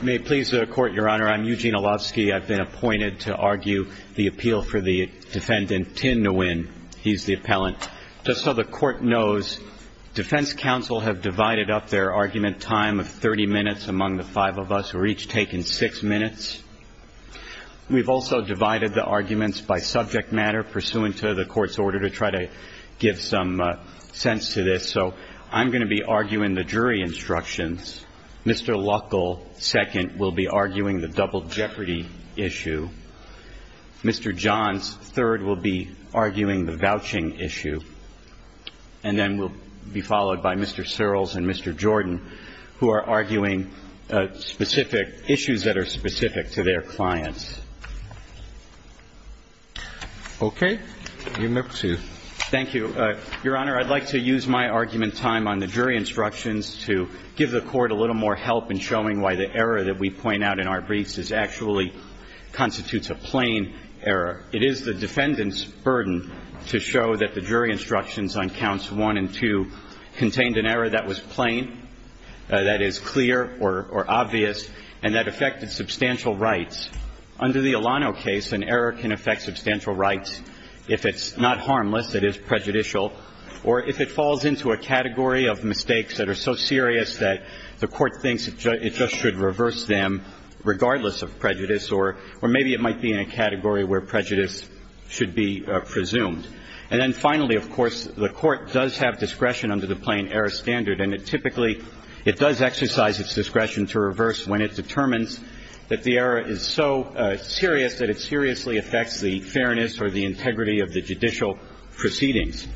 May it please the Court, Your Honor, I'm Eugene Olofsky. I've been appointed to argue the appeal for the defendant, Tin Nguyen. He's the appellant. Just so the Court knows, Defense Counsel has divided up their argument time of 30 minutes among the five of us. We're each taking six minutes. We've also divided the arguments by subject matter pursuant to the Court's order to try to give some sense to this. So I'm going to be arguing the jury instructions. Mr. Luckl, second, will be arguing the double jeopardy issue. Mr. Johns, third, will be arguing the vouching issue. And then we'll be followed by Mr. Searles and Mr. Jordan who are arguing specific issues that are specific to their clients. Okay. Thank you. Your Honor, I'd like to use my argument time on the jury instructions to give the Court a little more help in showing why the error that we point out in our briefs actually constitutes a plain error. It is the defendant's burden to show that the jury instructions on counts one and two contained an error that was plain, that is clear or obvious, and that affected substantial rights. Under the Alano case, an error can affect substantial rights if it's not harmless, that is prejudicial, or if it falls into a category of mistakes that are so serious that the Court thinks it just should reverse them regardless of prejudice, or maybe it might be in a category where prejudice should be presumed. And then finally, of course, the Court does have discretion under the plain error standard, and it typically, it does exercise its discretion to reverse when it determines that the error is so serious that it seriously affects the fairness or the integrity of the judicial proceedings.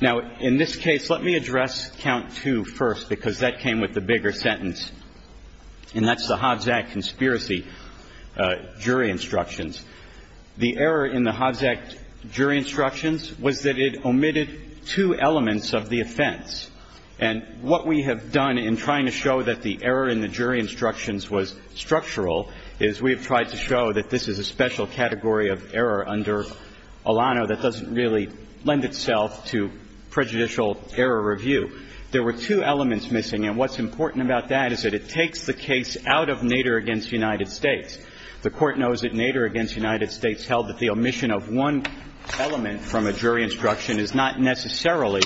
Now, in this case, let me address count two first because that came with the bigger sentence, and that's the Hobbs Act conspiracy jury instructions. The error in the Hobbs Act jury instructions was that it omitted two elements of the offense, and what we have done in trying to show that the error in the jury instructions was structural is we have tried to show that this is a special category of error under Alano that doesn't really lend itself to prejudicial error review. There were two elements missing, and what's important about that is that it takes the case out of Nader against United States. The United States held that the omission of one element from a jury instruction is not necessarily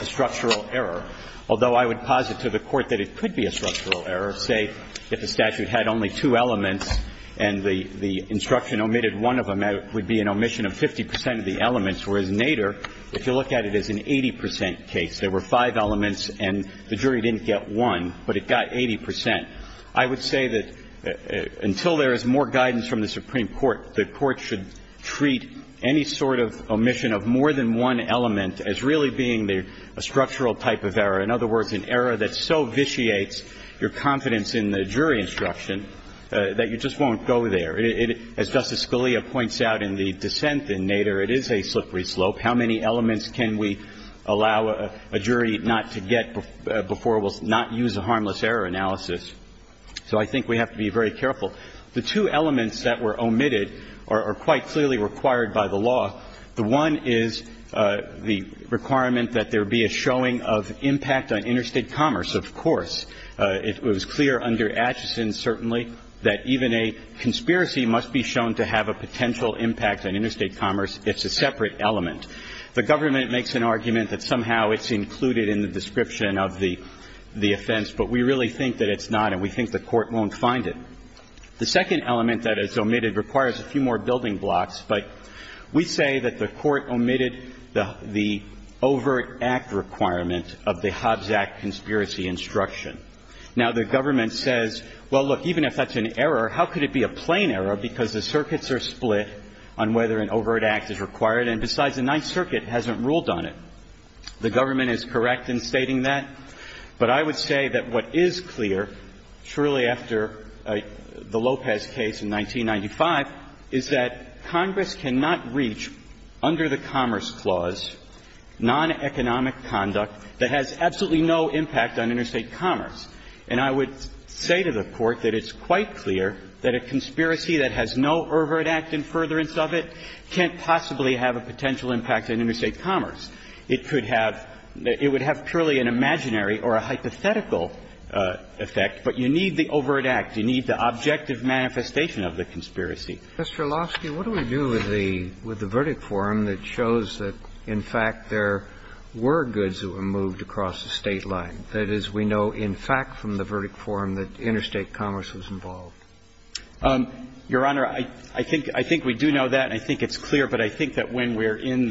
a structural error, although I would posit to the Court that it could be a structural error, say, if the statute had only two elements and the instruction omitted one of them, it would be an omission of 50 percent of the elements, whereas Nader, if you look at it as an 80 percent case, there were five elements and the jury didn't get one, but it got 80 percent. I would say that until there's more guidance from the Supreme Court, the Court should treat any sort of omission of more than one element as really being a structural type of error, in other words, an error that so vitiates your confidence in the jury instruction that you just won't go there. As Justice Scalia points out in the dissent in Nader, it is a slippery slope. How many elements can we allow a jury not to get before we'll not use the harmless error analysis? So I think we have to be very careful. The two elements that were omitted are quite clearly required by the law. The one is the requirement that there be a showing of impact on interstate commerce, of course. It was clear under Acheson, certainly, that even a conspiracy must be shown to have a potential impact on interstate commerce. It's a separate element. The government makes an argument that somehow it's included in the description of the offense, but we really think that it's not, and we think the Court won't find it. The second element that is omitted requires a few more building blocks, but we say that the Court omitted the overt act requirement of the Hobbs Act conspiracy instruction. Now, the government says, well, look, even if that's an error, how could it be a plain error, because the circuits are split on whether an overt act is required, and besides, the Ninth Circuit hasn't ruled on it. The government is correct in stating that, but I would say that what is clear, surely after the Lopez case in 1995, is that Congress cannot reach, under the Commerce Clause, non-economic conduct that has absolutely no impact on interstate commerce. And I would say to the Court that it's quite clear that a conspiracy that has no overt act in furtherance of it can't possibly have a potential impact on interstate commerce. It could have, it would have purely an imaginary or a hypothetical effect, but you need the overt act. You need the objective manifestation of the conspiracy. Mr. Orlovsky, what do we do with the verdict forum that shows that, in fact, there were goods that were moved across the state line? That is, we know, in fact, from the verdict forum that interstate commerce was involved. Your Honor, I think we do know that, and I think it's clear, but I think that when we're in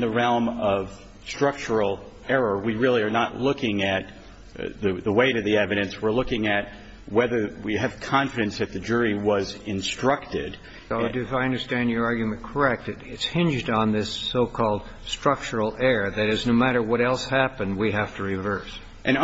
the realm of structural error, we really are not looking at the weight of the evidence. We're looking at whether we have confidence that the jury was instructed. If I understand your argument correct, it's hinged on this so-called structural error, that is, no matter what else happened, we have to reverse. And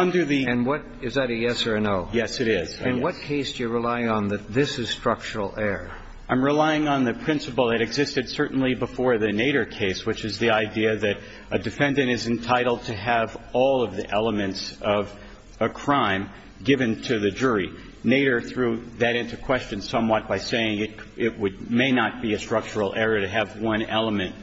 is that a yes or a no? Yes, it is. In what case do you rely on that this is structural error? I'm relying on the principle that existed certainly before the Nader case, which is the idea that a defendant is entitled to have all of the elements of a crime given to the jury. Nader threw that into question somewhat by saying it may not be a structural error to have one element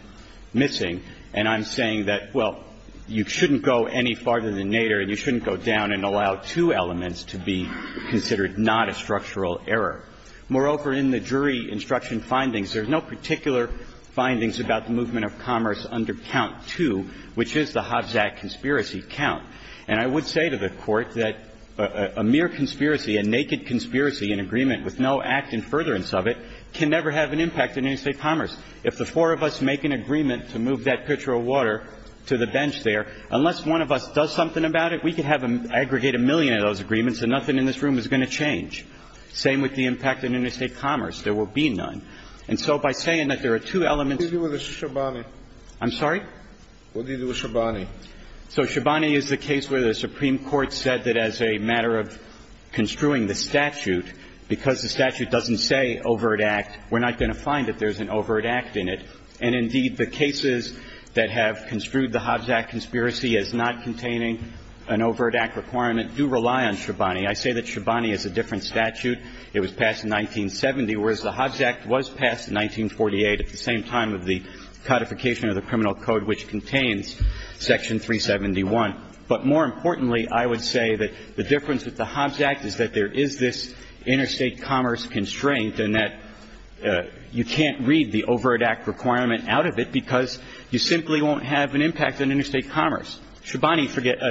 missing, and I'm saying that, well, you shouldn't go any farther than to go down and allow two elements to be considered not a structural error. Moreover, in the jury instruction findings, there's no particular findings about the movement of commerce under count two, which is the Hobbs Act conspiracy count. And I would say to the Court that a mere conspiracy, a naked conspiracy in agreement with no act in furtherance of it, can never have an impact in interstate commerce. If the four of us make an agreement to move that pitcher of water to the bench there, unless one of us does something about it, we can have an aggregated million of those agreements and nothing in this room is going to change. Same with the impact in interstate commerce. There will be none. And so by saying that there are two elements... What did you do with Shabani? I'm sorry? What did you do with Shabani? So Shabani is the case where the Supreme Court said that as a matter of construing the statute, because the statute doesn't say overt act, we're not going to find that there's an overt act in it. And indeed, the cases that have construed the Hobbs Act conspiracy as not containing an overt act requirement do rely on Shabani. I say that Shabani is a different statute. It was passed in 1970, whereas the Hobbs Act was passed in 1948 at the same time of the codification of the Criminal Code, which contains Section 371. But more importantly, I would say that the difference with the Hobbs Act is that there is this interstate commerce constraint and that you can't read the overt act requirement out of it because you simply won't have an impact on interstate commerce. Shabani,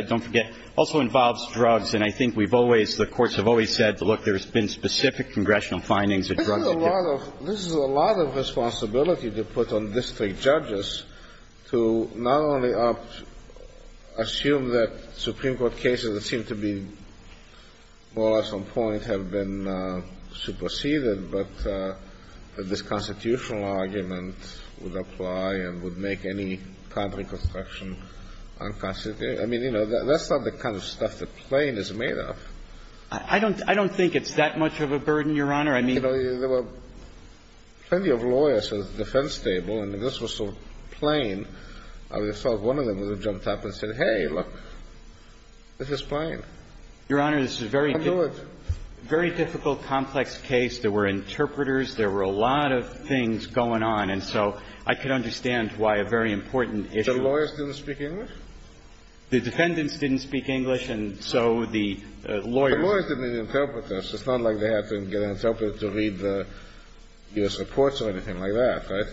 don't forget, also involves drugs. And I think we've always... The courts have always said, look, there's been specific congressional findings... This is a lot of responsibility to put on district judges to not only assume that Supreme Court cases that seem to be lost on point have been superseded, but this constitutional argument would apply and would make any public objection unconstitutional. I mean, you know, that's not the kind of stuff that plain is made of. I don't think it's that much of a burden, Your Honor. I mean... There were plenty of lawyers at the defense table, and this was so plain. I saw one of them jump up and say, hey, look, this is fine. Your Honor, this is a very difficult, complex case. There were interpreters. There were a lot of things going on, and so I could understand why a very important issue... The lawyers didn't speak English? The defendants didn't speak English, and so the lawyers... The lawyers didn't need interpreters. It's not like they had to get interpreters to read the reports or anything like that, right?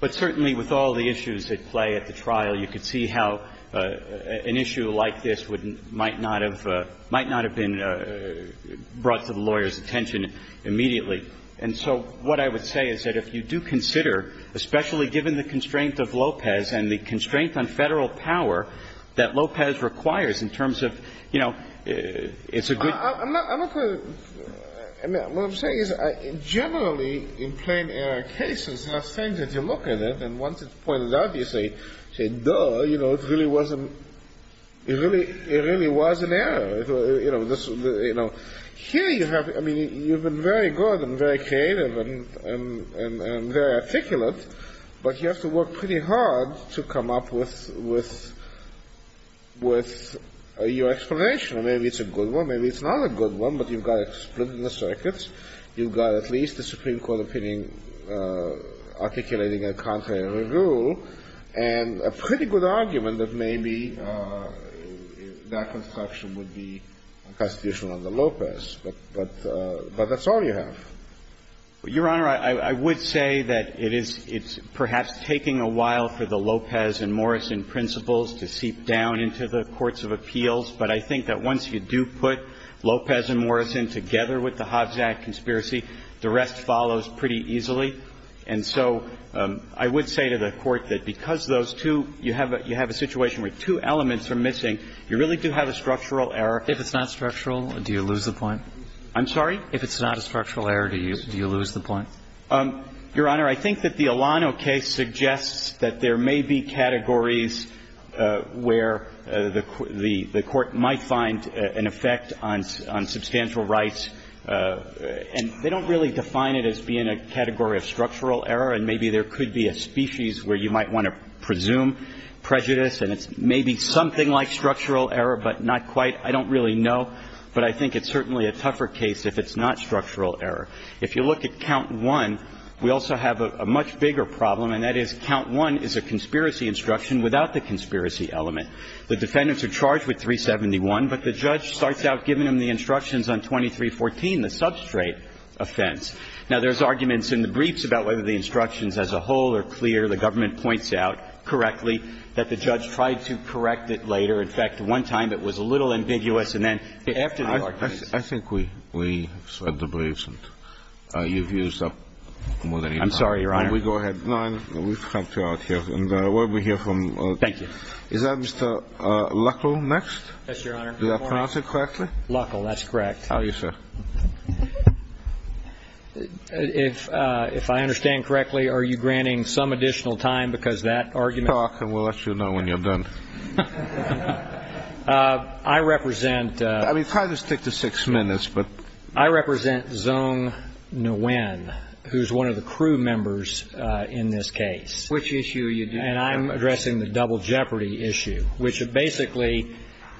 But certainly with all the issues at play at the trial, you could see how an issue like this might not have been brought to the lawyer's attention immediately. And so what I would say is that if you do consider, especially given the constraint of Lopez and the constraint on federal power that Lopez requires in terms of, you know, it's a good... I'm not going to... I mean, what I'm saying is generally in plain-air cases, it's not strange that you look at it and once it's pointed out, you say, duh, you know, it really was an error. You know, here you have... I mean, you've been very good and very creative and very articulate, but you have to work pretty hard to come up with your explanation. Maybe it's a good one, maybe it's not a good one, but you've got it split in the circuits. You've got at least the Supreme Court opinion articulating a contrary rule, and a pretty good argument that maybe that construction would be a prosecution under Lopez, but that's all you have. Your Honor, I would say that it's perhaps taking a while for the Lopez and Morrison principles to seep down into the courts of appeals, but I think that once you do put Lopez and Morrison together with the Hobbs Act conspiracy, the rest follows pretty easily. And so I would say to the Court that because those two, you have a situation where two elements are missing, you really do have a structural error. If it's not structural, do you lose the point? I'm sorry? If it's not a structural error, do you lose the point? Your Honor, I think that the Alano case suggests that there may be categories where the Court might find an effect on substantial rights, and they don't really define it as being a category of structural error, and maybe there could be a species where you might want to presume prejudice, and it may be something like structural error, but not quite. I don't really know, but I think it's certainly a tougher case if it's not structural error. If you look at count one, we also have a much bigger problem, and that is count one is a conspiracy instruction without the conspiracy element. The defendants are charged with 371, but the judge starts out giving them the instructions on 2314, the substrate offense. Now, there's arguments in the briefs about whether the instructions as a whole are clear. The government points out correctly that the judge tried to correct it later. In fact, one time, it was a little ambiguous, and then after the argument ---- I think we've said the briefs, and you've used up more than you have. I'm sorry, Your Honor. Go ahead. Thank you. Is that Mr. Luckl next? Yes, Your Honor. Did I pronounce it correctly? Luckl, that's correct. How are you, sir? If I understand correctly, are you granting some additional time because that argument ---- Talk, and we'll let you know when you're done. I represent ---- I mean, try to stick to six minutes, but ---- I represent Zhong Nguyen, who's one of the crew members in this case. Which issue are you addressing? And I'm addressing the double jeopardy issue, which basically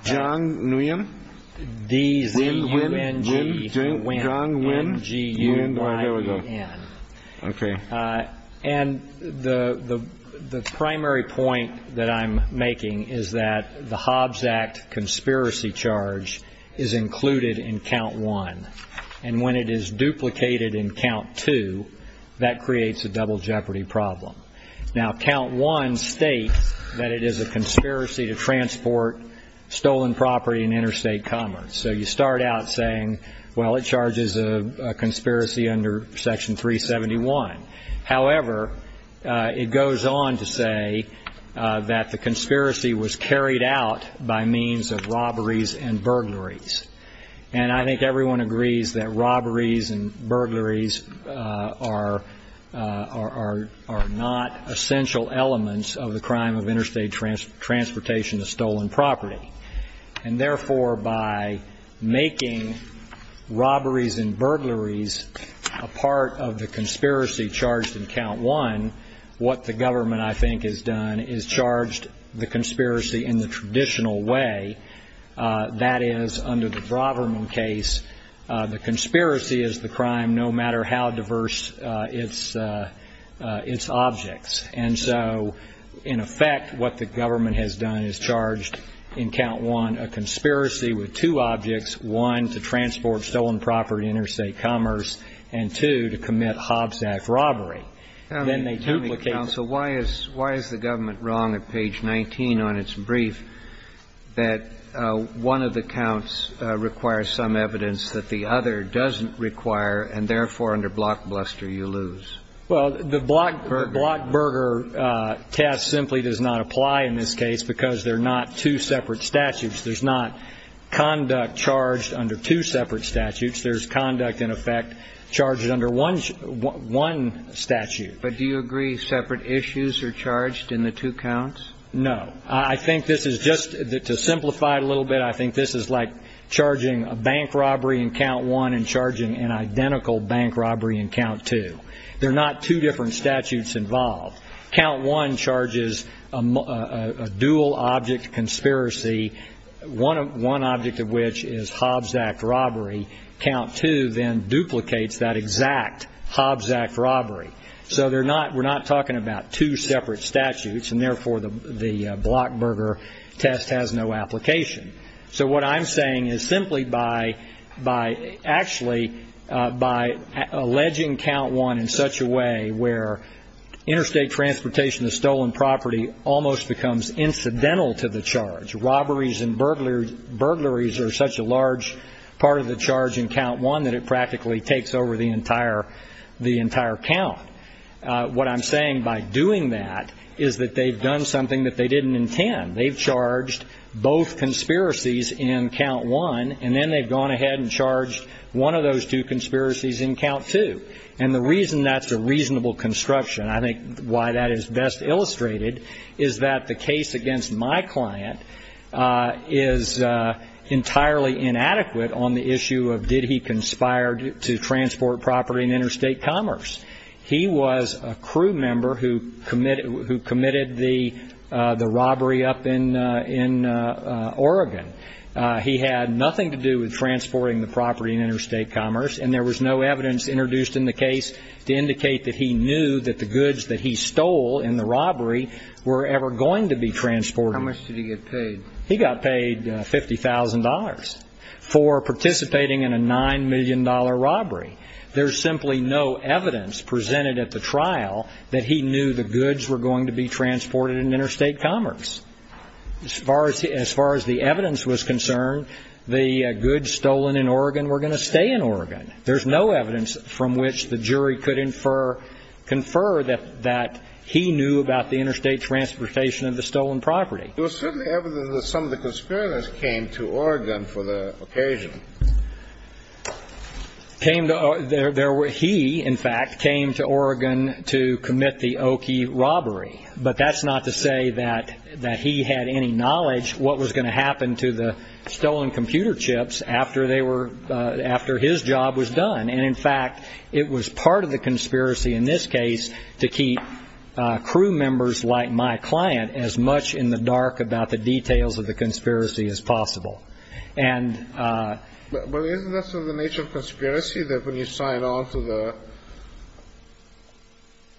---- Zhong Nguyen? D-V-U-N-G-Y-E-N. Okay. And the primary point that I'm making is that the Hobbs Act conspiracy charge is included in Count 1. And when it is duplicated in Count 2, that creates a double jeopardy problem. Now, Count 1 states that it is a conspiracy to transport stolen property in interstate commerce. So you start out saying, well, it charges a conspiracy under Section 371. However, it goes on to say that the conspiracy was carried out by means of robberies and burglaries. And I think everyone agrees that robberies and burglaries are not essential elements of the crime of interstate transportation of stolen property. And therefore, by making robberies and burglaries a part of the conspiracy charged in Count 1, what the government, I think, has done is charged the conspiracy in the traditional way. That is, under the Braverman case, the conspiracy is the crime no matter how diverse its objects. And so, in effect, what the government has done is charged in Count 1 a conspiracy with two objects, one, to transport stolen property in interstate commerce, and two, to commit Hobbs Act robbery. Then they duplicate it. Why is the government wrong at page 19 on its brief that one of the counts requires some evidence that the other doesn't require, and therefore, under Blockbuster, you lose? Well, the Blockbuster test simply does not apply in this case because they're not two separate statutes. There's not conduct charged under two separate statutes. There's conduct, in effect, charged under one statute. But do you agree separate issues are charged in the two counts? No. I think this is just, to simplify it a little bit, I think this is like charging a bank robbery in Count 1 and charging an identical bank robbery in Count 2. They're not two different statutes involved. Count 1 charges a dual object conspiracy, one object of which is Hobbs Act robbery. Count 2 then duplicates that exact Hobbs Act robbery. So we're not talking about two separate statutes, and therefore, the Blockbuster test has no application. So what I'm saying is simply by actually alleging Count 1 in such a way where interstate transportation, the stolen property, almost becomes incidental to the charge. Robberies and burglaries are such a large part of the charge in Count 1 that it practically takes over the entire count. What I'm saying by doing that is that they've done something that they didn't intend. They've charged both conspiracies in Count 1, and then they've gone ahead and charged one of those two conspiracies in Count 2. And the reason that's a reasonable construction, I think why that is best illustrated, is that the case against my client is entirely inadequate on the issue of did he conspire to transport property in interstate commerce. He was a crew member who committed the robbery up in Oregon. He had nothing to do with transporting the property in interstate commerce, and there was no evidence introduced in the case to indicate that he knew that the goods that he stole in the robbery were ever going to be transported. How much did he get paid? He got paid $50,000 for participating in a $9 million robbery. There's simply no evidence presented at the trial that he knew the goods were going to be transported in interstate commerce. As far as the evidence was concerned, the goods stolen in Oregon were going to stay in Oregon. There's no evidence from which the jury could infer that he knew about the interstate transportation of the stolen property. There was certainly evidence that some of the conspirators came to Oregon for the occasion. He, in fact, came to Oregon to commit the Oki robbery, but that's not to say that he had any knowledge what was going to happen to the stolen computer chips after his job was done. In fact, it was part of the conspiracy in this case to keep crew members like my client as much in the dark about the details of the conspiracy as possible. Isn't this the nature of conspiracy, that when you sign on to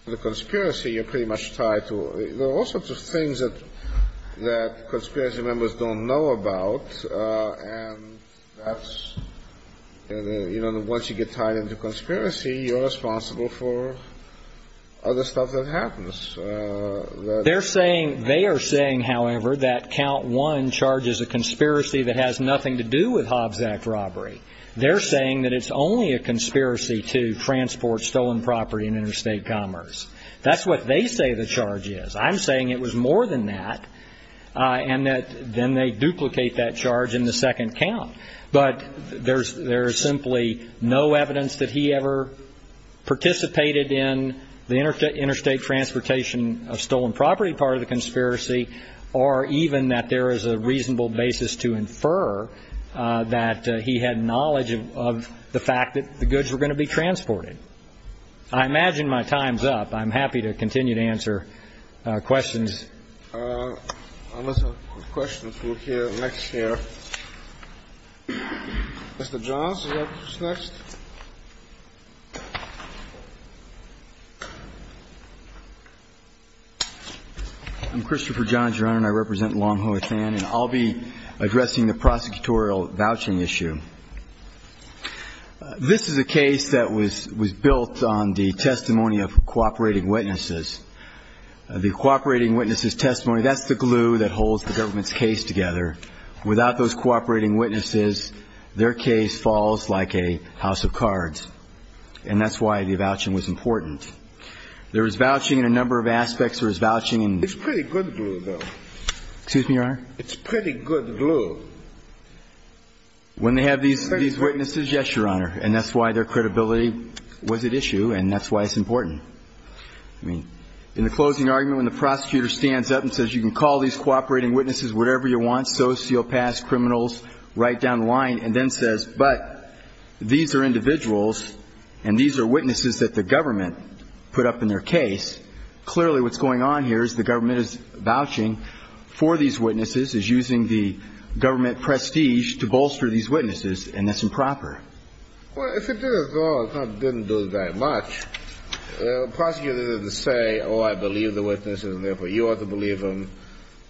the conspiracy, you're pretty much tied to it? There are all sorts of things that conspiracy members don't know about. Once you get tied into conspiracy, you're responsible for other stuff that happens. They are saying, however, that count one charges a conspiracy that has nothing to do with Hobbs Act robbery. They're saying that it's only a conspiracy to transport stolen property in interstate commerce. That's what they say the charge is. I'm saying it was more than that, and then they duplicate that charge in the second count. But there's simply no evidence that he ever participated in the interstate transportation of stolen property part of the conspiracy, or even that there is a reasonable basis to infer that he had knowledge of the fact that the goods were going to be transported. I imagine my time's up. I'm happy to continue to answer questions. Let's have questions from the next chair. Mr. Johns, you're up next. I'm Christopher Johns, Your Honor, and I represent Longhoi San, and I'll be addressing the prosecutorial vouching issue. This is a case that was built on the testimony of cooperating witnesses. The cooperating witnesses' testimony, that's the glue that holds the government's case together. Without those cooperating witnesses, their case falls like a house of cards, and that's why the vouching was important. There was vouching in a number of aspects. It's pretty good glue, though. Excuse me, Your Honor? It's pretty good glue. When they have these witnesses, yes, Your Honor, and that's why their credibility was at issue, and that's why it's important. I mean, in the closing argument, when the prosecutor stands up and says, you can call these cooperating witnesses whatever you want, those feel past criminals right down the line, and then says, but these are individuals, and these are witnesses that the government put up in their case, clearly what's going on here is the government is vouching for these witnesses, is using the government prestige to bolster these witnesses, and that's improper. Well, if it didn't do that much, the prosecutor didn't say, oh, I believe the witnesses, and therefore you ought to believe them.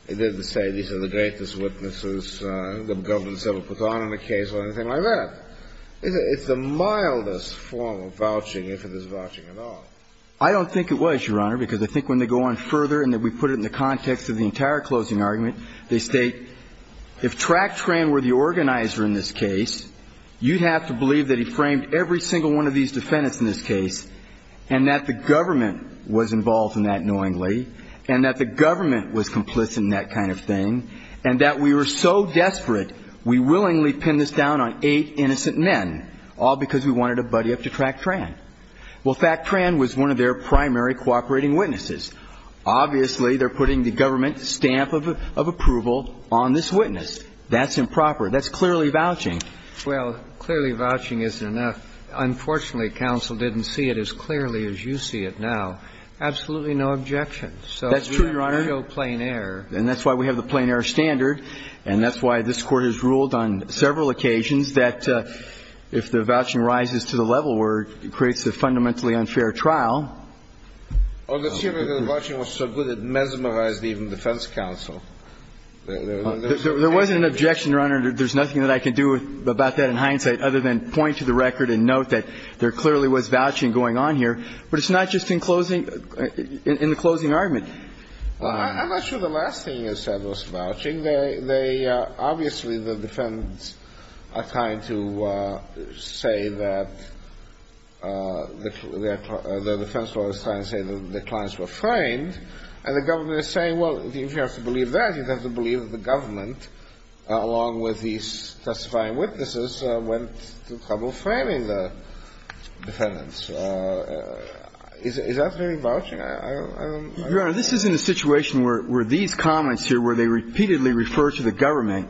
He didn't say, these are the greatest witnesses, the government's ever put on in a case, or anything like that. It's the mildest form of vouching, if it is vouching at all. I don't think it was, Your Honor, because I think when they go on further, and we put it in the context of the entire closing argument, they state, if Tractran were the organizer in this case, you'd have to believe that he framed every single one of these defendants in this case, and that the government was involved in that knowingly, and that the government was complicit in that kind of thing, and that we were so desperate, we willingly pinned this down on eight innocent men, all because we wanted to buddy up to Tractran. Well, Tractran was one of their primary cooperating witnesses. Obviously, they're putting the government stamp of approval on this witness. That's improper. That's clearly vouching. Well, clearly vouching isn't enough. Unfortunately, counsel didn't see it as clearly as you see it now. Absolutely no objections. That's true, Your Honor. So it's real plain air. And that's why we have the plain air standard, and that's why this Court has ruled on several occasions that if the vouching rises to the level where it creates a fundamentally unfair trial. Well, the issue of the vouching was so good it mesmerized even the defense counsel. There wasn't an objection, Your Honor. There's nothing that I can do about that in hindsight other than point to the record and note that there clearly was vouching going on here. But it's not just in the closing argument. I'm not sure the last thing you said was vouching. Obviously, the defendants are trying to say that the clients were framed, and the government is saying, well, if you have to believe that, you have to believe that the government, along with these testifying witnesses, went to trouble framing the defendants. Is that very vouching? Your Honor, this isn't a situation where these comments here where they repeatedly refer to the government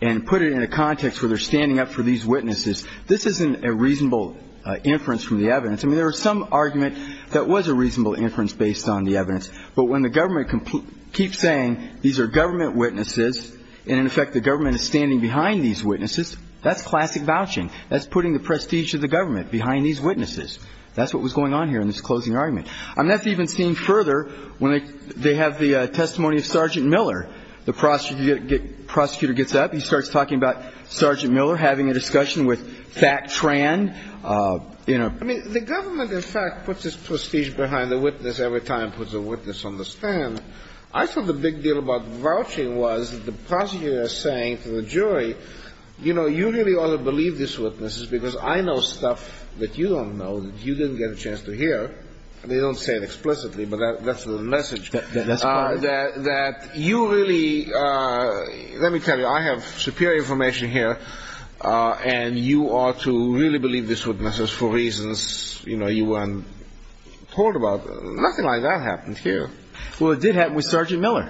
and put it in a context where they're standing up for these witnesses. This isn't a reasonable inference from the evidence. I mean, there was some argument that was a reasonable inference based on the evidence. But when the government keeps saying these are government witnesses, and, in effect, the government is standing behind these witnesses, that's classic vouching. That's putting the prestige of the government behind these witnesses. That's what was going on here in this closing argument. And that's even seen further when they have the testimony of Sergeant Miller. The prosecutor gets up. He starts talking about Sergeant Miller having a discussion with Thak Tran. I mean, the government, in fact, puts its prestige behind the witness every time it puts a witness on the stand. I thought the big deal about vouching was that the prosecutor was saying to the jury, you know, you really ought to believe these witnesses because I know stuff that you don't know and you didn't get a chance to hear. They don't say it explicitly, but that's the message. That you really, let me tell you, I have superior information here, and you ought to really believe these witnesses for reasons you weren't told about. Nothing like that happened here. Well, it did happen with Sergeant Miller.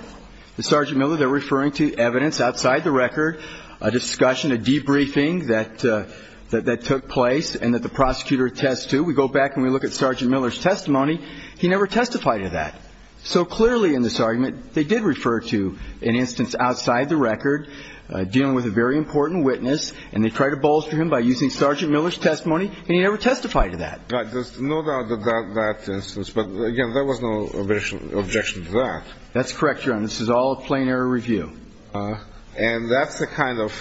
With Sergeant Miller, they're referring to evidence outside the record, a discussion, a debriefing that took place and that the prosecutor attests to. We go back and we look at Sergeant Miller's testimony. He never testified to that. So clearly in this argument, they did refer to an instance outside the record, dealing with a very important witness, and they tried to bolster him by using Sergeant Miller's testimony, and he never testified to that. Not under that instance, but, again, there was no objection to that. That's correct, Your Honor. This is all a plain error review. And that's the kind of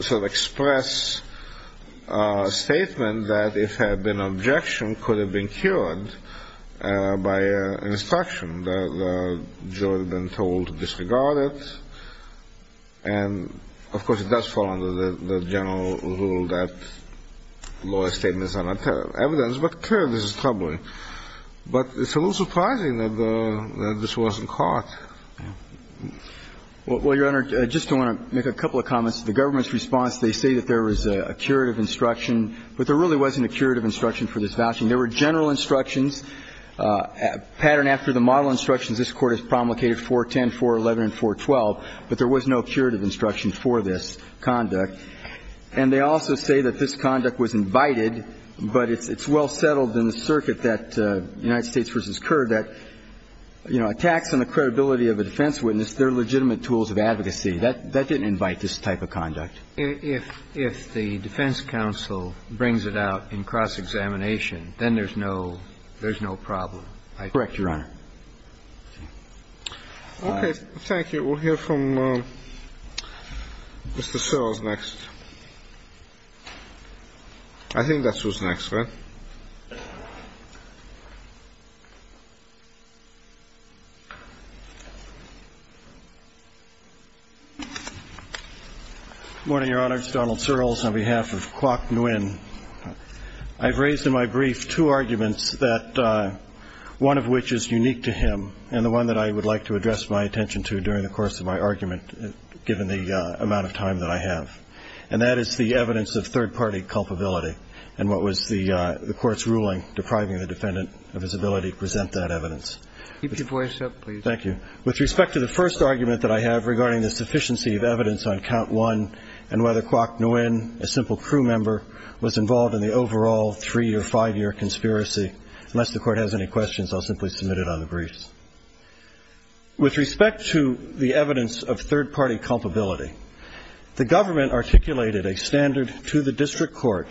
sort of express statement that if there had been an objection, it could have been cured by an instruction. The juror had been told to disregard it, and, of course, it does fall under the general rule that lawyer's statements are not evidence, but the proof is troubling. But it's a little surprising that this wasn't caught. Well, Your Honor, just to make a couple of comments, the government's response, they say that there was a curative instruction, but there really wasn't a curative instruction for this vouching. There were general instructions. Pattern after the model instructions, this Court has promulgated 410, 411, and 412, but there was no curative instruction for this conduct. And they also say that this conduct was invited, but it's well settled in the circuit that United States v. Kerr that, you know, attacks on the credibility of a defense witness, they're legitimate tools of advocacy. That didn't invite this type of conduct. If the defense counsel brings it out in cross-examination, then there's no problem. Correct, Your Honor. Okay, thank you. We'll hear from Mr. Searles next. I think that's who's next, right? Good morning, Your Honor. It's Donald Searles on behalf of Kwok Nguyen. I've raised in my brief two arguments, one of which is unique to him and the one that I would like to address my attention to during the course of my argument, given the amount of time that I have, and that is the evidence of third-party culpability and what was the Court's ruling depriving the defendant of his ability to present that evidence. Keep your voice up, please. Thank you. With respect to the first argument that I have regarding this deficiency of evidence on count one and whether Kwok Nguyen, a simple crew member, was involved in the overall three- or five-year conspiracy, unless the Court has any questions, I'll simply submit it on the briefs. With respect to the evidence of third-party culpability, the government articulated a standard to the district court,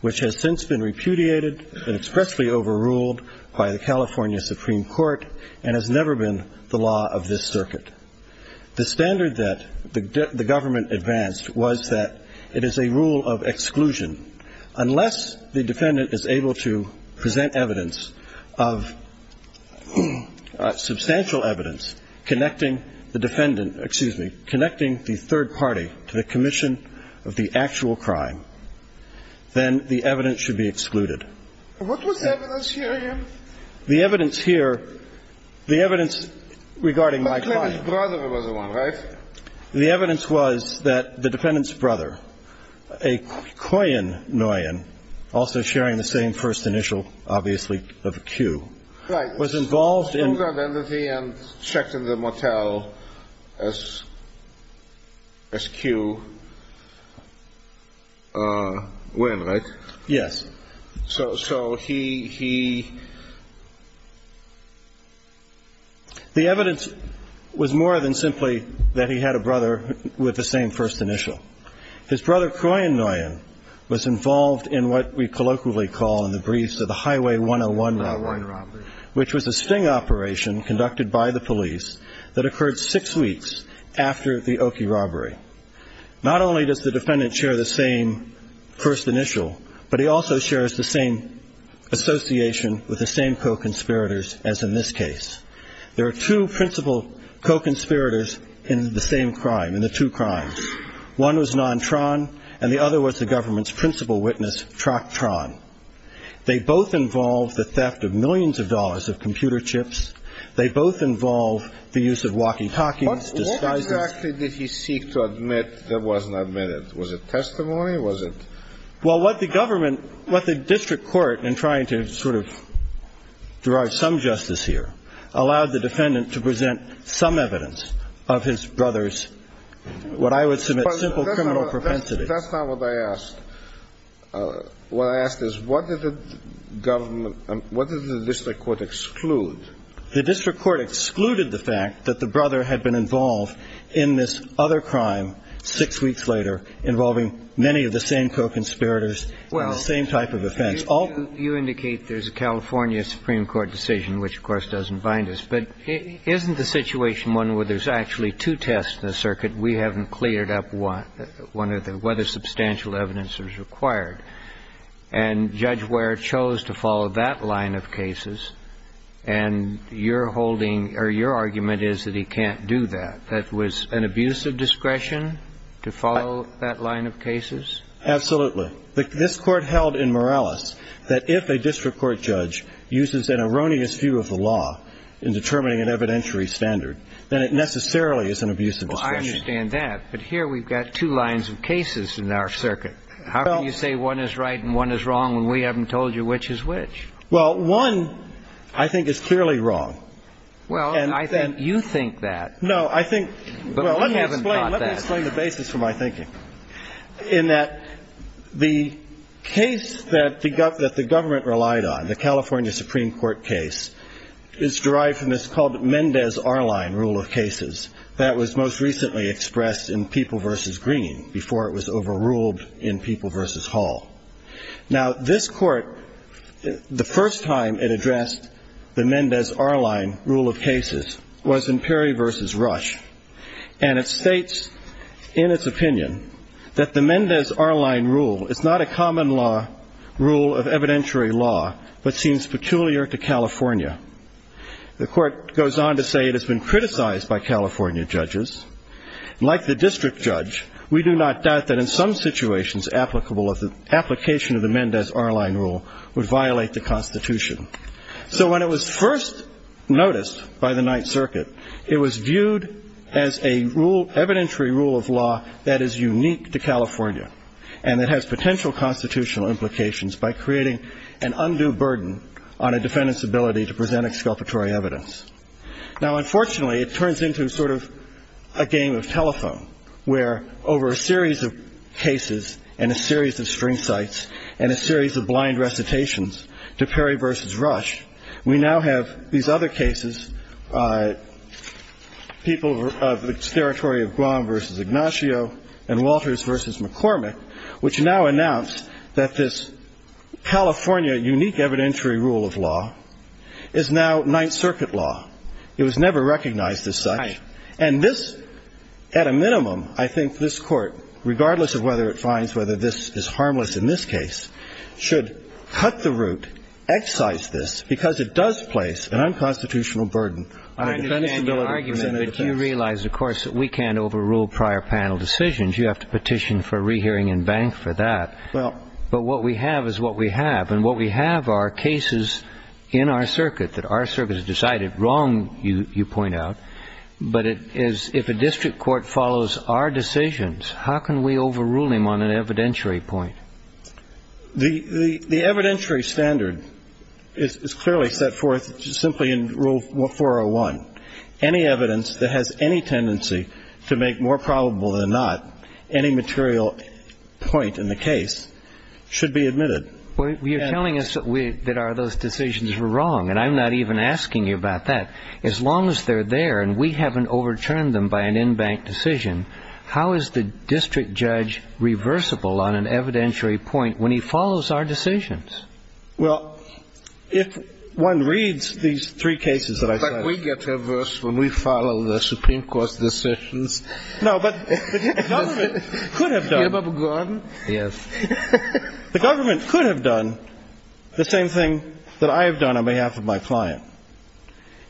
which has since been repudiated and expressly overruled by the California Supreme Court and has never been the law of this circuit. The standard that the government advanced was that it is a rule of exclusion. Unless the defendant is able to present evidence of substantial evidence connecting the defendant, excuse me, connecting the third party to the commission of the actual crime, then the evidence should be excluded. What was the evidence here again? The evidence here, the evidence regarding my client. His brother was the one, right? The evidence was that the defendant's brother, Kwok Nguyen, also sharing the same first initial, obviously, of Q, was involved in... Right. He took the identity and checked in the motel as Q Nguyen, right? Yes. So he... The evidence was more than simply that he had a brother with the same first initial. His brother, Kwok Nguyen, was involved in what we colloquially call in the briefs of the Highway 101 robbery, which was a sting operation conducted by the police that occurred six weeks after the Oki robbery. Not only does the defendant share the same first initial, but he also shares the same association with the same co-conspirators as in this case. There are two principal co-conspirators in the same crime, in the two crimes. One was Nantran, and the other was the government's principal witness, Traktran. They both involved the theft of millions of dollars of computer chips. They both involved the use of walkie-talkies. What exactly did he seek to admit that wasn't admitted? Was it testimony? Why was it? Well, what the government, what the district court, in trying to sort of deride some justice here, allowed the defendant to present some evidence of his brother's, what I would submit, simple criminal propensity. That's not what I asked. What I asked is, what did the government, what did the district court exclude? The district court excluded the fact that the brother had been involved in this other crime six weeks later involving many of the same co-conspirators and the same type of offense. You indicate there's a California Supreme Court decision, which of course doesn't bind us, but isn't the situation one where there's actually two tests in the circuit and we haven't cleared up one of them, whether substantial evidence is required? And Judge Ware chose to follow that line of cases, and your argument is that he can't do that. That was an abuse of discretion to follow that line of cases? Absolutely. This court held in Morales that if a district court judge uses an erroneous view of the law in determining an evidentiary standard, then it necessarily is an abuse of discretion. I understand that, but here we've got two lines of cases in our circuit. How can you say one is right and one is wrong when we haven't told you which is which? Well, one I think is clearly wrong. Well, I think you think that. Well, let me explain the basis for my thinking in that the case that the government relied on, the California Supreme Court case, is derived from this called Mendez-Arline rule of cases that was most recently expressed in People v. Green before it was overruled in People v. Hall. Now this court, the first time it addressed the Mendez-Arline rule of cases was in Perry v. Rush, and it states in its opinion that the Mendez-Arline rule is not a common rule of evidentiary law but seems peculiar to California. The court goes on to say it has been criticized by California judges. Like the district judge, we do not doubt that in some situations application of the Mendez-Arline rule would violate the Constitution. So when it was first noticed by the Ninth Circuit, it was viewed as an evidentiary rule of law that is unique to California and that has potential constitutional implications by creating an undue burden on a defendant's ability to present exculpatory evidence. Now unfortunately it turns into sort of a game of telephone where over a series of cases and a series of string sites and a series of blind recitations to Perry v. Rush, we now have these other cases, People v. Ignacio and Walters v. McCormick, which now announce that this California unique evidentiary rule of law is now Ninth Circuit law. It was never recognized as such, and this, at a minimum, I think this court, regardless of whether it finds whether this is harmless in this case, should cut the root, excise this, because it does place an unconstitutional burden. I understand your argument that you realize, of course, that we can't overrule prior panel decisions. You have to petition for a rehearing in bank for that. But what we have is what we have, and what we have are cases in our circuit that our circuit has decided wrong, you point out, but if a district court follows our decisions, how can we overrule them on an evidentiary point? The evidentiary standard is clearly set forth simply in Rule 401. Any evidence that has any tendency to make more probable than not any material point in the case should be admitted. You're telling us that those decisions were wrong, and I'm not even asking you about that. As long as they're there, and we haven't overturned them by an in-bank decision, how is the district judge reversible on an evidentiary point when he follows our decisions? Well, if one reads these three cases that I cite... It's like we get reversed when we follow the Supreme Court's decisions. No, but the government could have done the same thing that I have done on behalf of my client.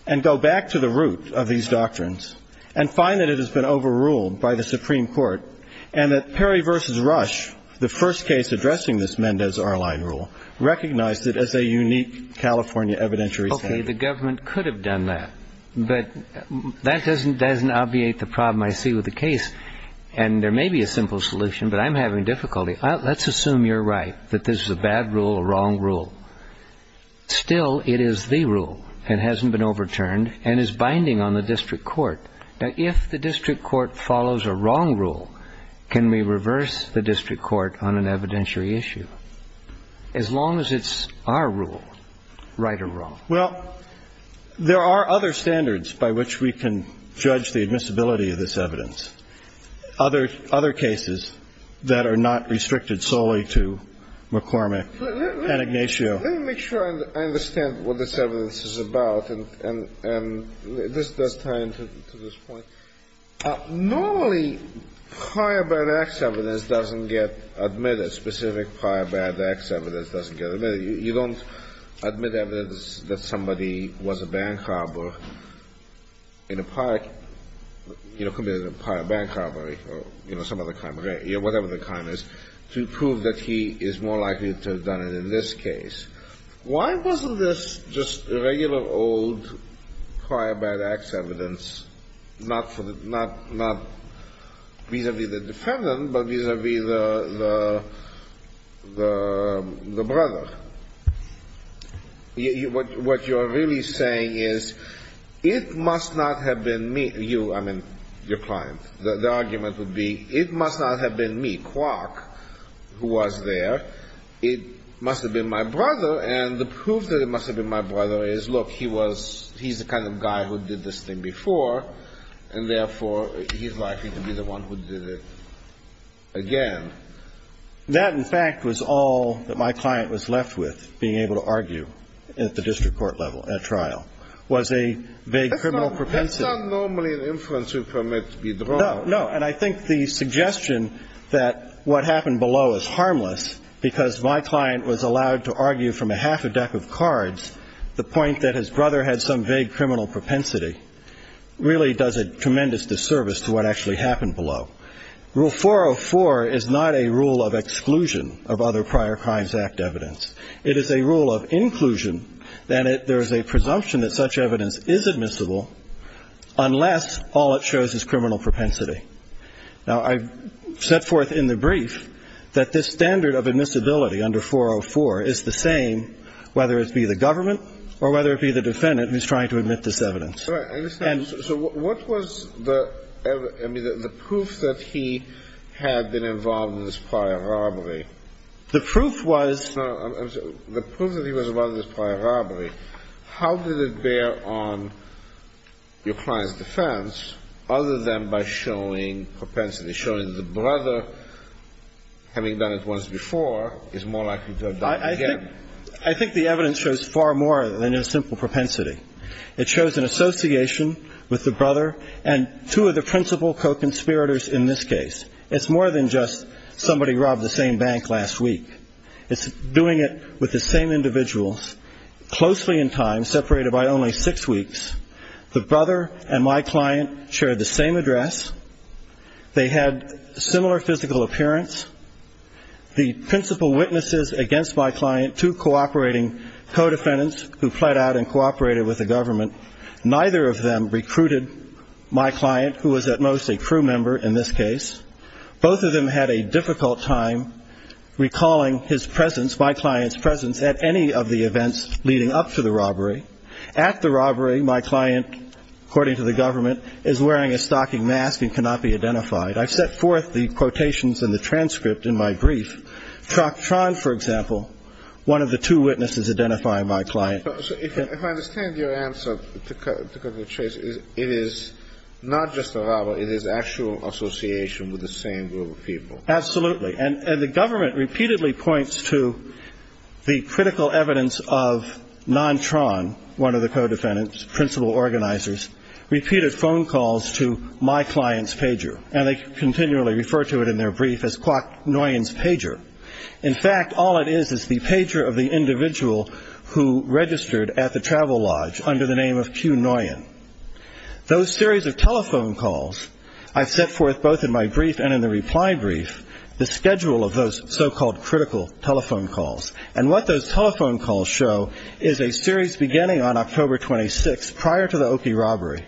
And go back to the root of these doctrines, and find that it has been overruled by the Supreme Court, and that Perry v. Rush, the first case addressing this Mendez-Arline rule, recognized it as a unique California evidentiary standard. Okay, the government could have done that, but that doesn't obviate the problem I see with the case. And there may be a simple solution, but I'm having difficulty. Let's assume you're right, that this is a bad rule or wrong rule. Still, it is the rule that hasn't been overturned and is binding on the district court. Now, if the district court follows a wrong rule, can we reverse the district court on an evidentiary issue? As long as it's our rule, right or wrong? Well, there are other standards by which we can judge the admissibility of this evidence. Other cases that are not restricted solely to McCormick and Ignacio. Let me make sure I understand what this evidence is about, and this does tie into this point. Normally prior bad acts evidence doesn't get admitted. Specific prior bad acts evidence doesn't get admitted. You don't admit evidence that somebody was a bank robber in a park, committed a prior bank robbery or some other crime, whatever the crime is, to prove that he is more likely to have done it in this case. Why wasn't this just regular old prior bad acts evidence, not vis-a-vis the defendant, but vis-a-vis the brother? What you're really saying is, it must not have been you, I mean, your client. The argument would be, it must not have been me, Clark, who was there. It must have been my brother, and the proof that it must have been my brother is, look, he's the kind of guy who did this thing before, and therefore he's likely to be the one who did it again. That, in fact, was all that my client was left with, being able to argue at the district court level, at trial. It was a vague criminal propensity. That's not normally an influence of McCormick's withdrawal. No, no, and I think the suggestion that what happened below is harmless because my client was allowed to argue from a half a deck of cards the point that his brother had some vague criminal propensity really does a tremendous disservice to what actually happened below. Rule 404 is not a rule of exclusion of other prior crimes act evidence. It is a rule of inclusion, and there is a presumption that such evidence is admissible unless all it shows is criminal propensity. Now, I set forth in the brief that this standard of admissibility under 404 is the same whether it be the government or whether it be the defendant who is trying to admit this evidence. So what was the proof that he had been involved in this prior robbery? The proof was... The proof that he was involved in this prior robbery, how did it bear on your client's defense other than by showing propensity, showing that the brother, having done it once before, is more likely to have done it again? I think the evidence shows far more than a simple propensity. It shows an association with the brother and two of the principal co-conspirators in this case. It's more than just somebody robbed the same bank last week. It's doing it with the same individuals closely in time, separated by only six weeks. The brother and my client shared the same address. They had similar physical appearance. The principal witnesses against my client, two cooperating co-defendants who fled out and cooperated with the government, neither of them recruited my client, who was at most a crew member in this case. Both of them had a difficult time recalling his presence, my client's presence, at any of the events leading up to the robbery. At the robbery, my client, according to the government, is wearing a stocking mask and cannot be identified. I set forth the quotations in the transcript in my brief. Troctron, for example, one of the two witnesses identifying my client. If I understand your answer to Governor Chase, it is not just a robbery. It is actual association with the same group of people. Absolutely. And the government repeatedly points to the critical evidence of Nontron, one of the co-defendants' principal organizers, repeated phone calls to my client's pager. And they continually refer to it in their brief as Quacknoyan's pager. In fact, all it is is the pager of the individual who registered at the travel lodge under the name of Quacknoyan. Those series of telephone calls, I've set forth both in my brief and in the reply brief, the schedule of those so-called critical telephone calls. And what those telephone calls show is a series beginning on October 26 prior to the Oki robbery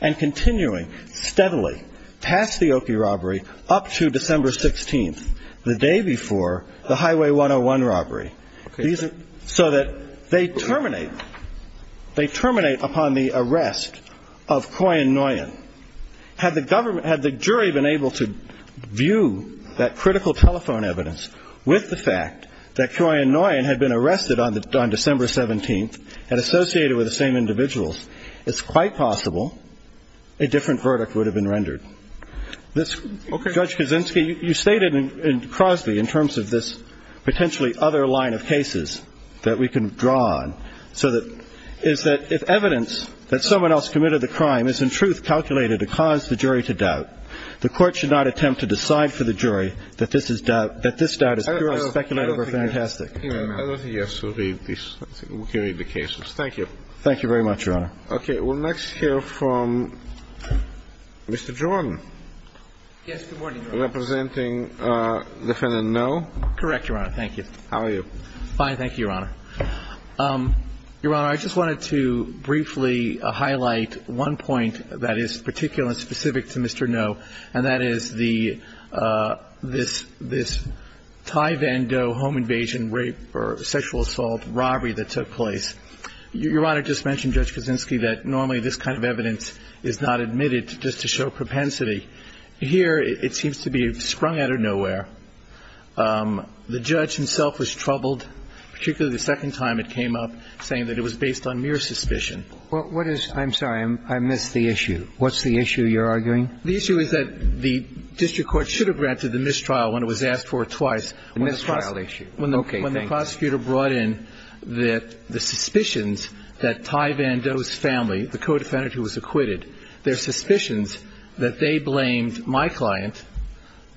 and continuing steadily past the Oki robbery up to December 16th, the day before the Highway 101 robbery. So that they terminate upon the arrest of Quacknoyan. Had the jury been able to view that critical telephone evidence with the fact that Quacknoyan had been arrested on December 17th and associated with the same individuals, it's quite possible a different verdict would have been rendered. Judge Kuczynski, you stated in Crosby, in terms of this potentially other line of cases that we can draw on, is that if evidence that someone else committed the crime is in truth calculated to cause the jury to doubt, the court should not attempt to decide for the jury that this doubt is purely speculative or fantastic. I don't think so. We'll carry the cases. Thank you. Thank you very much, Your Honor. Okay. We'll next hear from Mr. Geronimo. Yes. Good morning. Representing defendant Ngo. Correct, Your Honor. Thank you. How are you? Fine. Thank you, Your Honor. Your Honor, I just wanted to briefly highlight one point that is particular and specific to Mr. Ngo, and that is this Thai Van Do home invasion rape or sexual assault robbery that took place. Your Honor just mentioned, Judge Kuczynski, that normally this kind of evidence is not admitted just to show propensity. Here it seems to be sprung out of nowhere. The judge himself was troubled, particularly the second time it came up, saying that it was based on mere suspicion. What is – I'm sorry. I missed the issue. What's the issue you're arguing? The issue is that the district court should have granted the mistrial when it was asked for twice. The mistrial issue. Okay. When the prosecutor brought in the suspicions that Thai Van Do's family, the co-defendant who was acquitted, their suspicions that they blamed my client,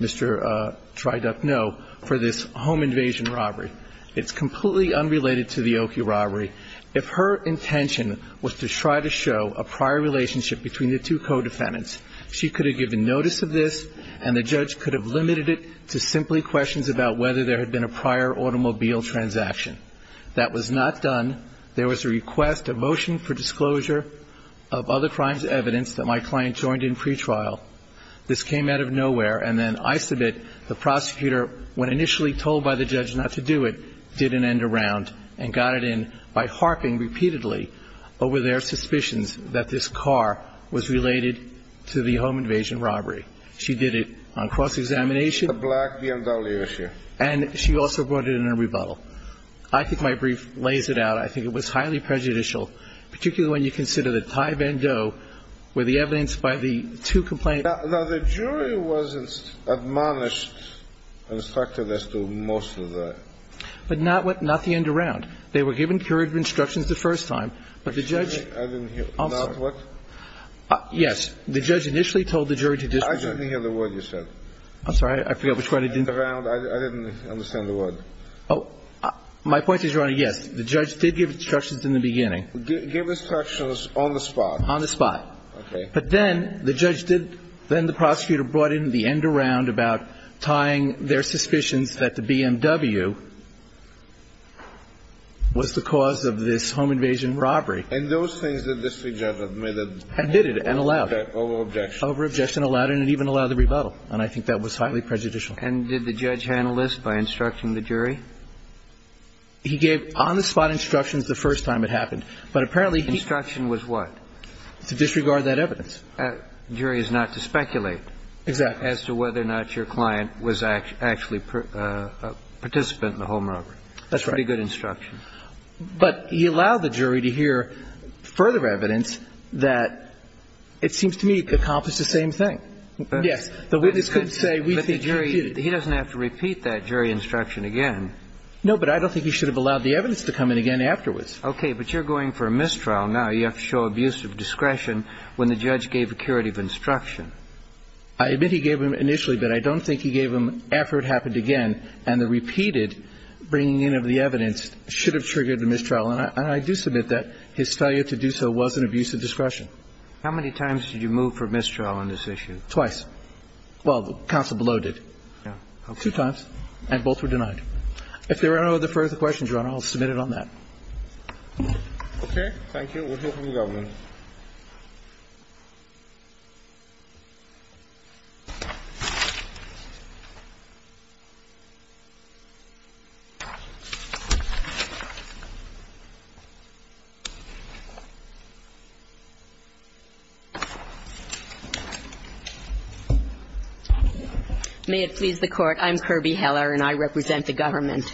Mr. Trai Duc Ngo, for this home invasion robbery. It's completely unrelated to the Okie robbery. If her intention was to try to show a prior relationship between the two co-defendants, she could have given notice of this, and the judge could have limited it to simply questions about whether there had been a prior automobile transaction. That was not done. There was a request, a motion for disclosure of other crimes evidence that my client joined in pretrial. This came out of nowhere, and then I submit the prosecutor, when initially told by the judge not to do it, did an end around and got it in by harping repeatedly over their suspicions that this car was related to the home invasion robbery. She did it on cross-examination. A black BMW issue. And she also brought it in a rebuttal. I think my brief lays it out. I think it was highly prejudicial, particularly when you consider that Thai Van Do were the evidence by the two complainants. Now, the jury was admonished, and the prosecutor did most of that. But not the end around. They were given courage of instruction the first time, but the judge... Excuse me. I didn't hear. Not what? Yes. The judge initially told the jury to do... I didn't hear the word you said. I'm sorry. I forgot which one I didn't... The end around. I didn't understand the word. My point is, your Honor, yes, the judge did give instructions in the beginning. Gave instructions on the spot. On the spot. Okay. But then the judge did... Then the prosecutor brought in the end around about tying their suspicions that the BMW was the cause of this home invasion robbery. And those things that this judge admitted... Admitted and allowed. Over-objection. Over-objection allowed, and it even allowed the rebuttal, and I think that was highly prejudicial. And did the judge handle this by instructing the jury? He gave on-the-spot instructions the first time it happened, but apparently he... Instruction was what? To disregard that evidence. The jury is not to speculate... Exactly. ...as to whether or not your client was actually a participant in the home robbery. That's right. Pretty good instruction. But he allowed the jury to hear further evidence that it seems to me it could accomplish the same thing. Yes. But we couldn't say... But the jury, he doesn't have to repeat that jury instruction again. No, but I don't think he should have allowed the evidence to come in again afterwards. Okay, but you're going for a mistrial now. You have to show abuse of discretion when the judge gave a curative instruction. I admit he gave them initially, but I don't think he gave them after it happened again, and the repeated bringing in of the evidence should have triggered the mistrial, and I do submit that his failure to do so was an abuse of discretion. How many times did you move for a mistrial on this issue? Twice. Well, counsel below did. Two times, and both were denied. If there are no further questions, Your Honor, I'll submit it on that. Okay, thank you. We'll hear from the government. May it please the Court, I'm Kirby Heller, and I represent the government.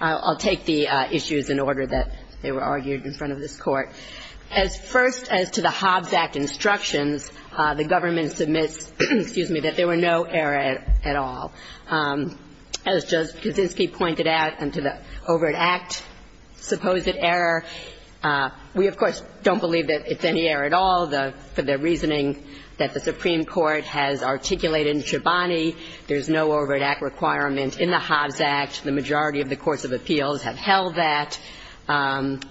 I'll take the issues in order that they were argued in front of this Court. As first as to the Hobbs Act instructions, the government submits, excuse me, that there were no errors at all. As Justice Kaczynski pointed out, and to the Overt Act supposed error, we, of course, don't believe that it's any error at all. The reasoning that the Supreme Court has articulated in Treboni, there's no Overt Act requirement in the Hobbs Act. The majority of the courts of appeals have held that, and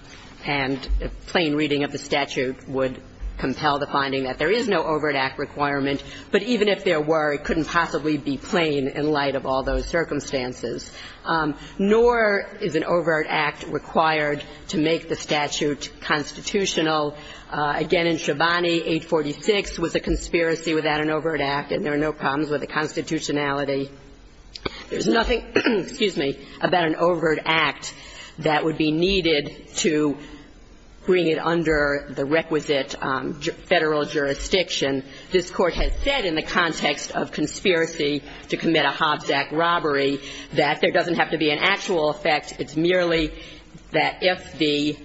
a plain reading of the statute would compel the finding that there is no Overt Act requirement, but even if there were, it couldn't possibly be plain in light of all those circumstances. Nor is an Overt Act required to make the statute constitutional. Again, in Treboni, 846 was a conspiracy without an Overt Act, and there are no problems with the constitutionality. There's nothing, excuse me, about an Overt Act that would be needed to bring it under the requisite federal jurisdiction. This court has said in the context of conspiracy to commit a Hobbs Act robbery that there doesn't have to be an actual effect. It's merely that if the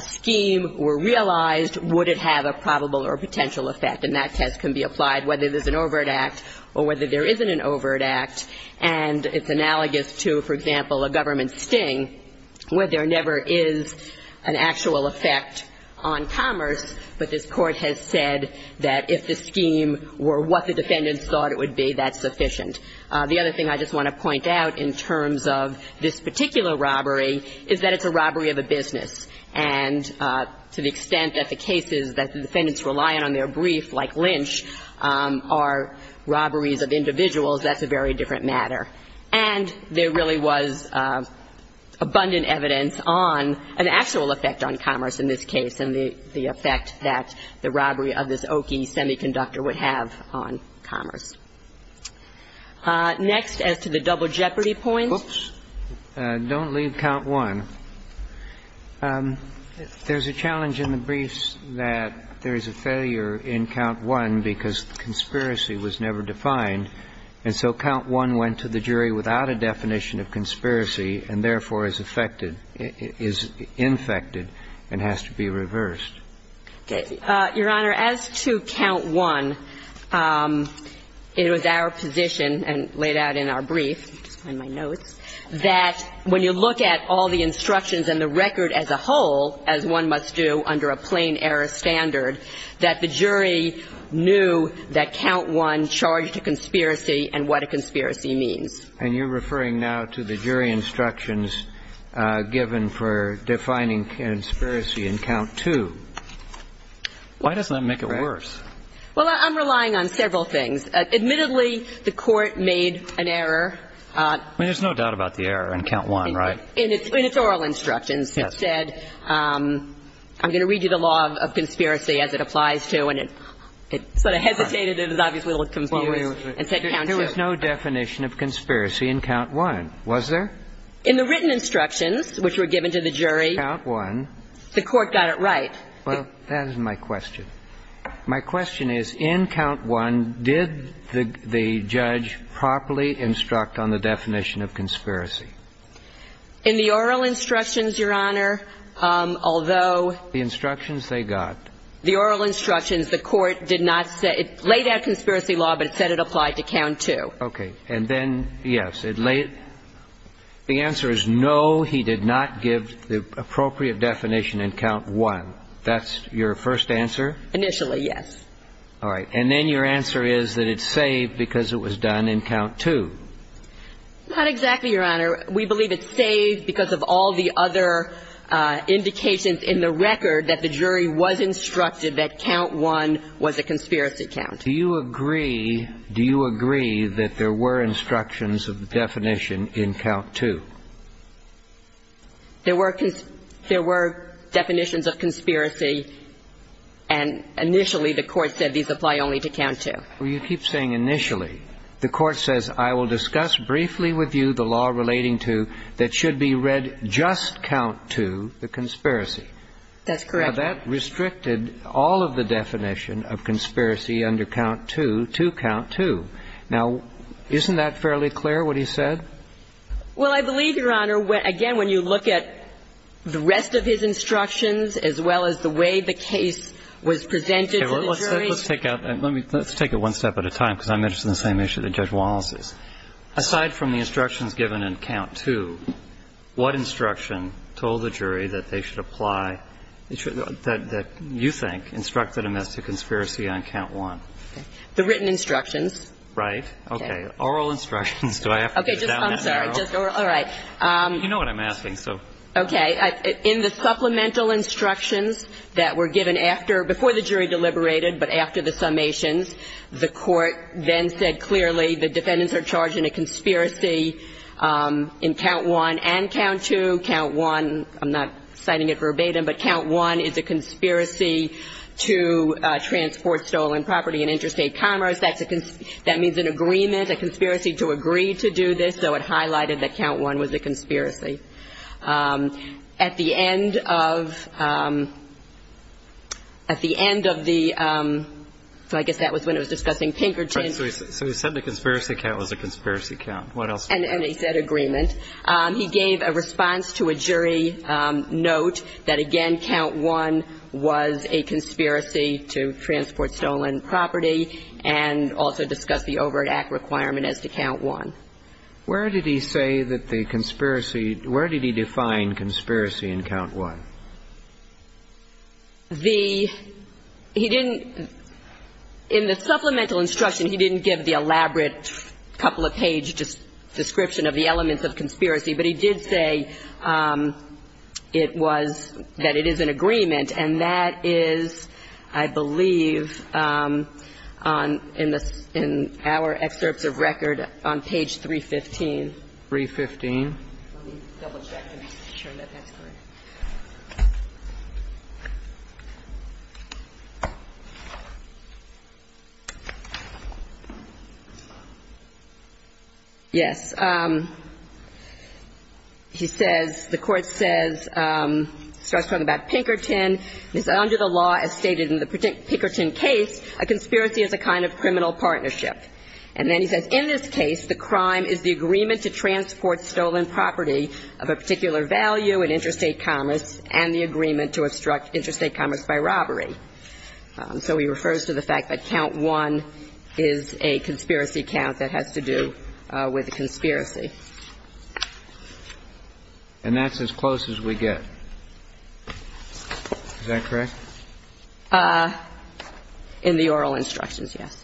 scheme were realized, would it have a probable or potential effect, and that test can be applied whether there's an Overt Act or whether there isn't an Overt Act, and it's analogous to, for example, a government sting where there never is an actual effect on commerce, but this court has said that if the scheme were what the defendants thought it would be, that's sufficient. The other thing I just want to point out in terms of this particular robbery is that it's a robbery of a business, and to the extent that the cases that the defendants rely on in their brief, like Lynch, are robberies of individuals, that's a very different matter. And there really was abundant evidence on an actual effect on commerce in this case, and the effect that the robbery of this Oakey Semiconductor would have on commerce. Next, as to the double jeopardy point. Oops. Don't leave count one. There's a challenge in the briefs that there is a failure in count one because conspiracy was never defined, and so count one went to the jury without a definition of conspiracy and therefore is infected and has to be reversed. Your Honor, as to count one, it was our position, and laid out in our brief, that when you look at all the instructions in the record as a whole, as one must do under a plain error standard, that the jury knew that count one charged a conspiracy and what a conspiracy means. And you're referring now to the jury instructions given for defining conspiracy in count two. Why does that make it worse? Well, I'm relying on several things. Admittedly, the court made an error. I mean, there's no doubt about the error in count one, right? In its oral instructions, it said, I'm going to read you the law of conspiracy as it applies to, and it sort of hesitated. It was obviously a little confusing. There's no definition of conspiracy in count one, was there? In the written instructions, which were given to the jury, the court got it right. Well, that is my question. My question is, in count one, did the judge properly instruct on the definition of conspiracy? In the oral instructions, Your Honor, although... The instructions they got. The oral instructions, the court did not say. It laid out conspiracy law, but it said it applied to count two. Okay. And then, yes, it laid... The answer is no, he did not give the appropriate definition in count one. That's your first answer? Initially, yes. All right. And then your answer is that it's saved because it was done in count two. Not exactly, Your Honor. We believe it's saved because of all the other indications in the record that the jury was instructed that count one was a conspiracy count. Do you agree that there were instructions of the definition in count two? There were definitions of conspiracy, and initially the court said these apply only to count two. Well, you keep saying initially. The court says, I will discuss briefly with you the law relating to that should be read just count two, the conspiracy. That's correct. Now, that restricted all of the definition of conspiracy under count two to count two. Now, isn't that fairly clear what he said? Well, I believe, Your Honor, again, when you look at the rest of his instructions as well as the way the case was presented to the jury... Let's take it one step at a time because I'm interested in the same issue that Judge Wallace is. Aside from the instructions given in count two, what instruction told the jury that they should apply, that you think, instructed them as to conspiracy on count one? The written instructions. Right. Okay. Oral instructions. Okay. I'm sorry. All right. You know what I'm asking, so... Okay. In the supplemental instructions that were given after, before the jury deliberated but after the summations, the court then said clearly the defendants are charged in a conspiracy in count one and count two. Count one, I'm not citing it verbatim, but count one is a conspiracy to transport stolen property in interstate commerce. That means an agreement, a conspiracy to agree to do this, so it highlighted that count one was a conspiracy. At the end of, at the end of the, so I guess that was when it was discussing Pinkerton. So he said the conspiracy count was a conspiracy count. What else? And he said agreement. He gave a response to a jury note that, again, count one was a conspiracy to transport stolen property and also discussed the overt act requirement as to count one. Where did he say that the conspiracy, where did he define conspiracy in count one? The, he didn't, in the supplemental instruction he didn't give the elaborate couple of page description of the elements of conspiracy, but he did say it was, that it is an agreement and that is, I believe, on, in the, in our excerpt of record on page 315. 315. Let me double check and make sure that that's right. Yes. He says, the court says, starts talking about Pinkerton. It says under the law, as stated in the Pinkerton case, a conspiracy is a kind of criminal partnership. And then he says, in this case, the crime is the agreement to transport stolen property of a particular value in interstate commerce. And the agreement to obstruct interstate commerce by robbery. So he refers to the fact that count one is a conspiracy count that has to do with conspiracy. And that's as close as we get. Is that correct? In the oral instructions, yes.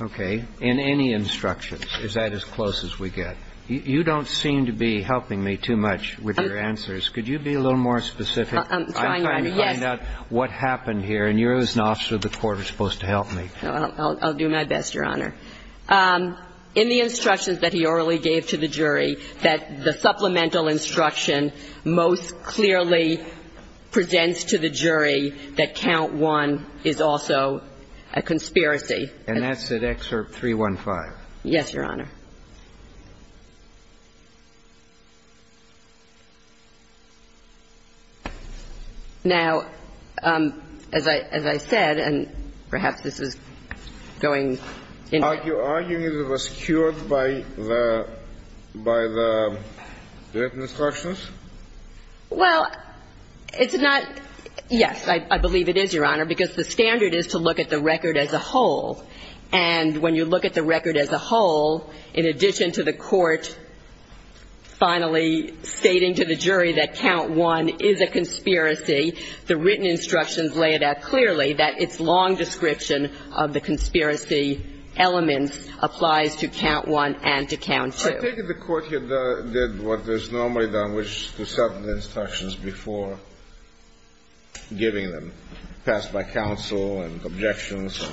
Okay. In any instructions, is that as close as we get? You don't seem to be helping me too much with your answers. Could you be a little more specific? I'm trying, yes. I'm trying to find out what happened here, and you're as an officer of the court are supposed to help me. I'll do my best, Your Honor. In the instructions that he orally gave to the jury, that the supplemental instruction most clearly presents to the jury that count one is also a conspiracy. And that's at excerpt 315. Yes, Your Honor. Now, as I said, and perhaps this is going in. Are you arguing that it was cured by the instructions? Well, it's not. Yes, I believe it is, Your Honor, because the standard is to look at the record as a whole. And when you look at the record as a whole, in addition to the court finally stating to the jury that count one is a conspiracy, the written instructions lay it out clearly that its long description of the conspiracy element applies to count one and to count two. I take it the court here did what is normally done, which is to submit instructions before giving them. Passed by counsel and objections,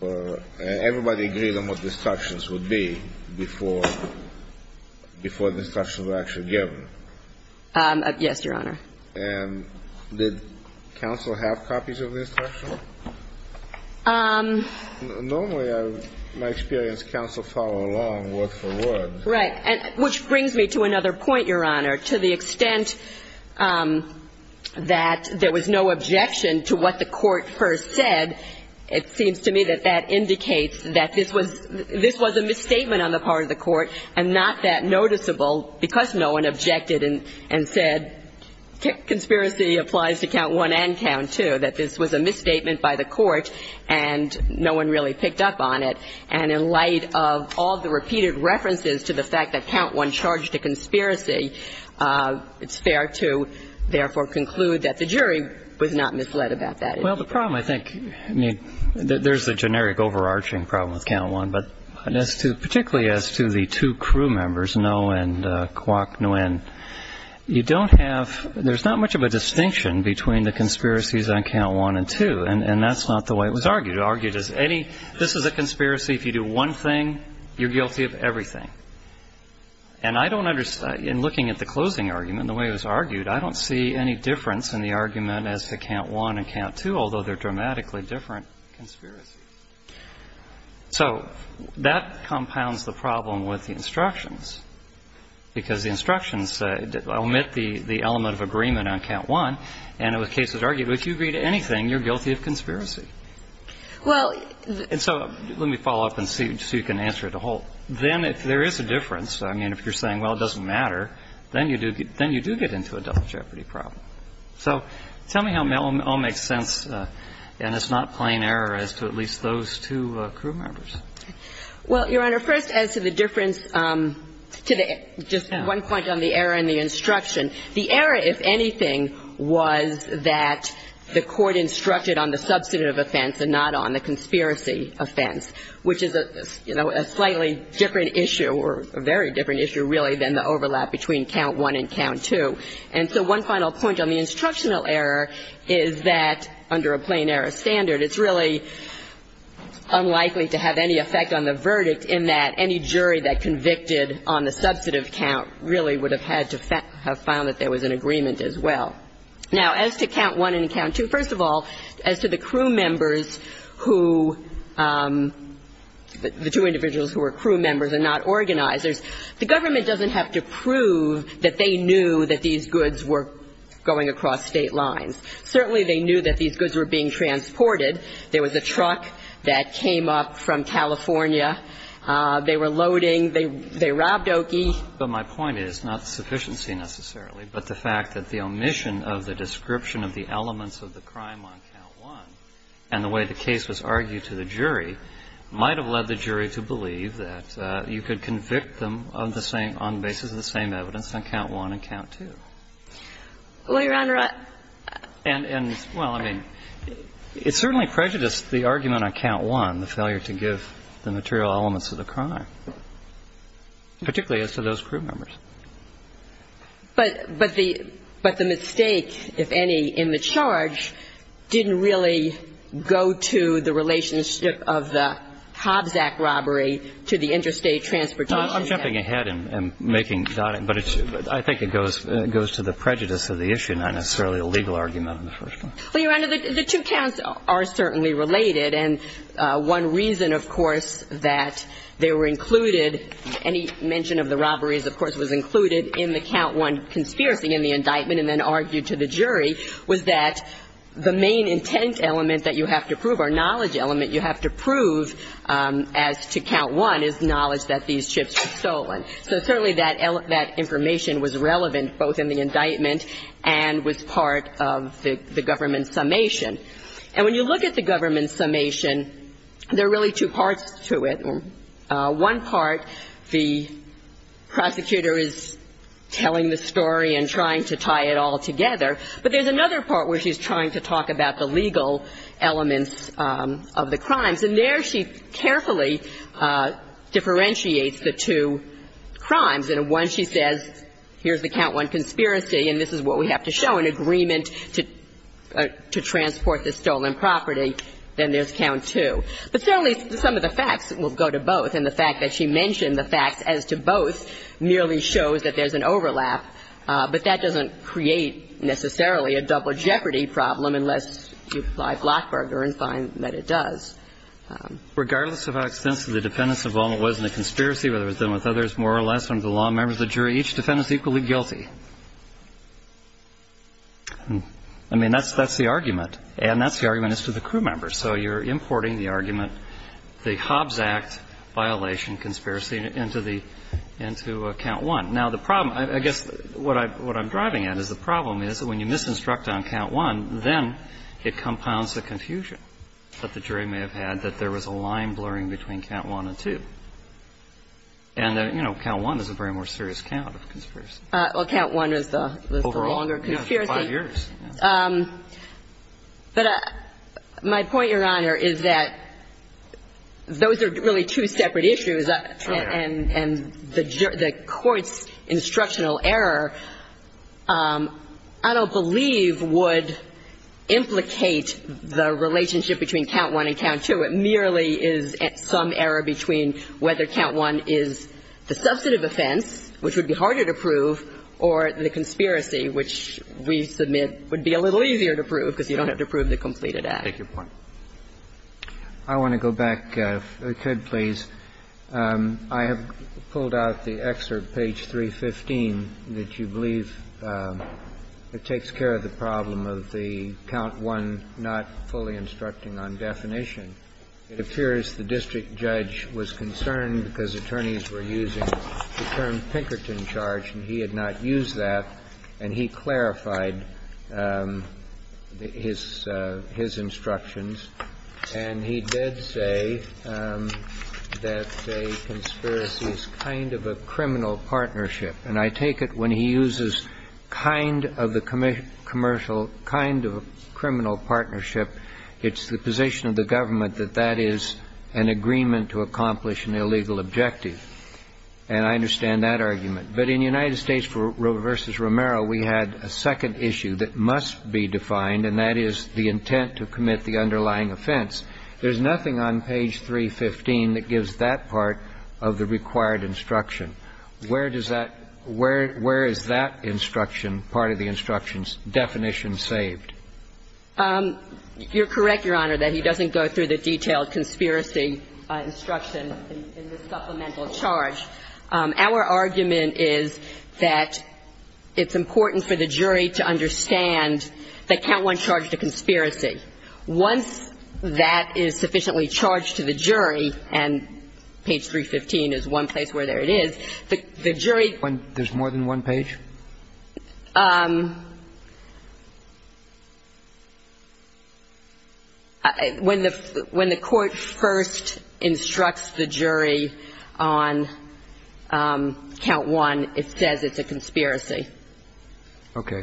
and everybody agreed on what the instructions would be before the instructions were actually given. Yes, Your Honor. Normally, in my experience, counsel follow along word for word. Right. Which brings me to another point, Your Honor. To the extent that there was no objection to what the court first said, it seems to me that that indicates that this was a misstatement on the part of the court and not that noticeable because no one objected and said conspiracy applies to count one and count two, that this was a misstatement by the court and no one really picked up on it. And in light of all the repeated references to the fact that count one charged a conspiracy, it's fair to therefore conclude that the jury was not misled about that. Well, the problem, I think, there's the generic overarching problem with count one, but particularly as to the two crew members, Ngo and Quoc Nguyen, you don't have, there's not much of a distinction between the conspiracies on count one and two, and that's not the way it was argued. Argued as any, this is a conspiracy. If you do one thing, you're guilty of everything. And I don't understand, in looking at the closing argument, the way it was argued, I don't see any difference in the argument as to count one and count two, although they're dramatically different conspiracies. So that compounds the problem with the instructions, because the instructions omit the element of agreement on count one, and it was argued if you agree to anything, you're guilty of conspiracy. And so let me follow up and see if you can answer the whole. Then if there is a difference, I mean, if you're saying, well, it doesn't matter, then you do get into a double jeopardy problem. So tell me how it all makes sense, and it's not plain error as to at least those two crew members. Well, Your Honor, first as to the difference, just one point on the error in the instruction. The error, if anything, was that the court instructed on the substantive offense and not on the conspiracy offense, which is a slightly different issue, or a very different issue, really, than the overlap between count one and count two. And so one final point on the instructional error is that under a plain error standard, it's really unlikely to have any effect on the verdict in that any jury that convicted on the substantive count really would have had to have found that there was an agreement as well. Now, as to count one and count two, first of all, as to the crew members who, the two individuals who were crew members and not organizers, the government doesn't have to prove that they knew that these goods were going across state lines. Certainly they knew that these goods were being transported. There was a truck that came up from California. They were loading. They robbed Oki. But my point is, not sufficiency necessarily, but the fact that the omission of the description of the elements of the crime on count one and the way the case was argued to the jury might have led the jury to believe that you could convict them on the basis of the same evidence on count one and count two. Well, Your Honor, I... And, well, I mean, it certainly prejudiced the argument on count one, the failure to give the material elements of the crime, particularly as to those crew members. But the mistake, if any, in the charge didn't really go to the relationship of the Hobbs Act robbery to the Interstate Transportation Act. I'm jumping ahead and making... But I think it goes to the prejudice of the issue, not necessarily a legal argument on the first one. Well, Your Honor, the two counts are certainly related, and one reason, of course, that they were included, any mention of the robberies, of course, was included in the count one conspiracy in the indictment and then argued to the jury was that the main intent element that you have to prove or knowledge element you have to prove as to count one is knowledge that these chips were stolen. So certainly that information was relevant both in the indictment and was part of the government summation. And when you look at the government summation, there are really two parts to it. One part, the prosecutor is telling the story and trying to tie it all together. But there's another part where she's trying to talk about the legal elements of the crimes. And there she carefully differentiates the two crimes. And once she says, here's the count one conspiracy, and this is what we have to show, an agreement to transport the stolen property, then there's count two. But certainly some of the facts will go to both, and the fact that she mentioned the fact as to both merely shows that there's an overlap, but that doesn't create necessarily a double jeopardy problem unless you apply Blochberger and find that it does. Regardless of how extensive the defendant's involvement was in the conspiracy, whether it's been with others more or less under the law and members of the jury, each defendant's equally guilty. I mean, that's the argument, and that's the argument as to the crew members. So you're importing the argument, the Hobbs Act violation conspiracy, into count one. Now, the problem, I guess what I'm driving at is the problem is that when you misinstruct on count one, then it compounds the confusion that the jury may have had that there was a line blurring between count one and two. And, you know, count one is a very more serious count of conspiracy. Well, count one is the longer conspiracy. Overall, it's been five years. But my point, Your Honor, is that those are really two separate issues, and the court's instructional error I don't believe would implicate the relationship between count one and count two. It merely is some error between whether count one is the substantive offense, which would be harder to prove, or the conspiracy, which we submit would be a little easier to prove because you don't have to prove the completed act. Take your point. I want to go back, Ted, please. I have pulled out the excerpt, page 315, that you believe takes care of the problem of the count one not fully instructing on definition. It appears the district judge was concerned because attorneys were using the term Pinkerton charge, and he had not used that. And he clarified his instructions. And he did say that a conspiracy is kind of a criminal partnership. And I take it when he uses kind of a criminal partnership, it's the position of the government that that is an agreement to accomplish an illegal objective. And I understand that argument. But in United States v. Romero, we had a second issue that must be defined, and that is the intent to commit the underlying offense. There's nothing on page 315 that gives that part of the required instruction. Where is that instruction, part of the instruction's definition saved? You're correct, Your Honor, that he doesn't go through the detailed conspiracy instruction in the supplemental charge. Our argument is that it's important for the jury to understand the count one charge of conspiracy. Once that is sufficiently charged to the jury, and page 315 is one place where there it is, the jury... There's more than one page? When the court first instructs the jury on count one, it says it's a conspiracy. Okay.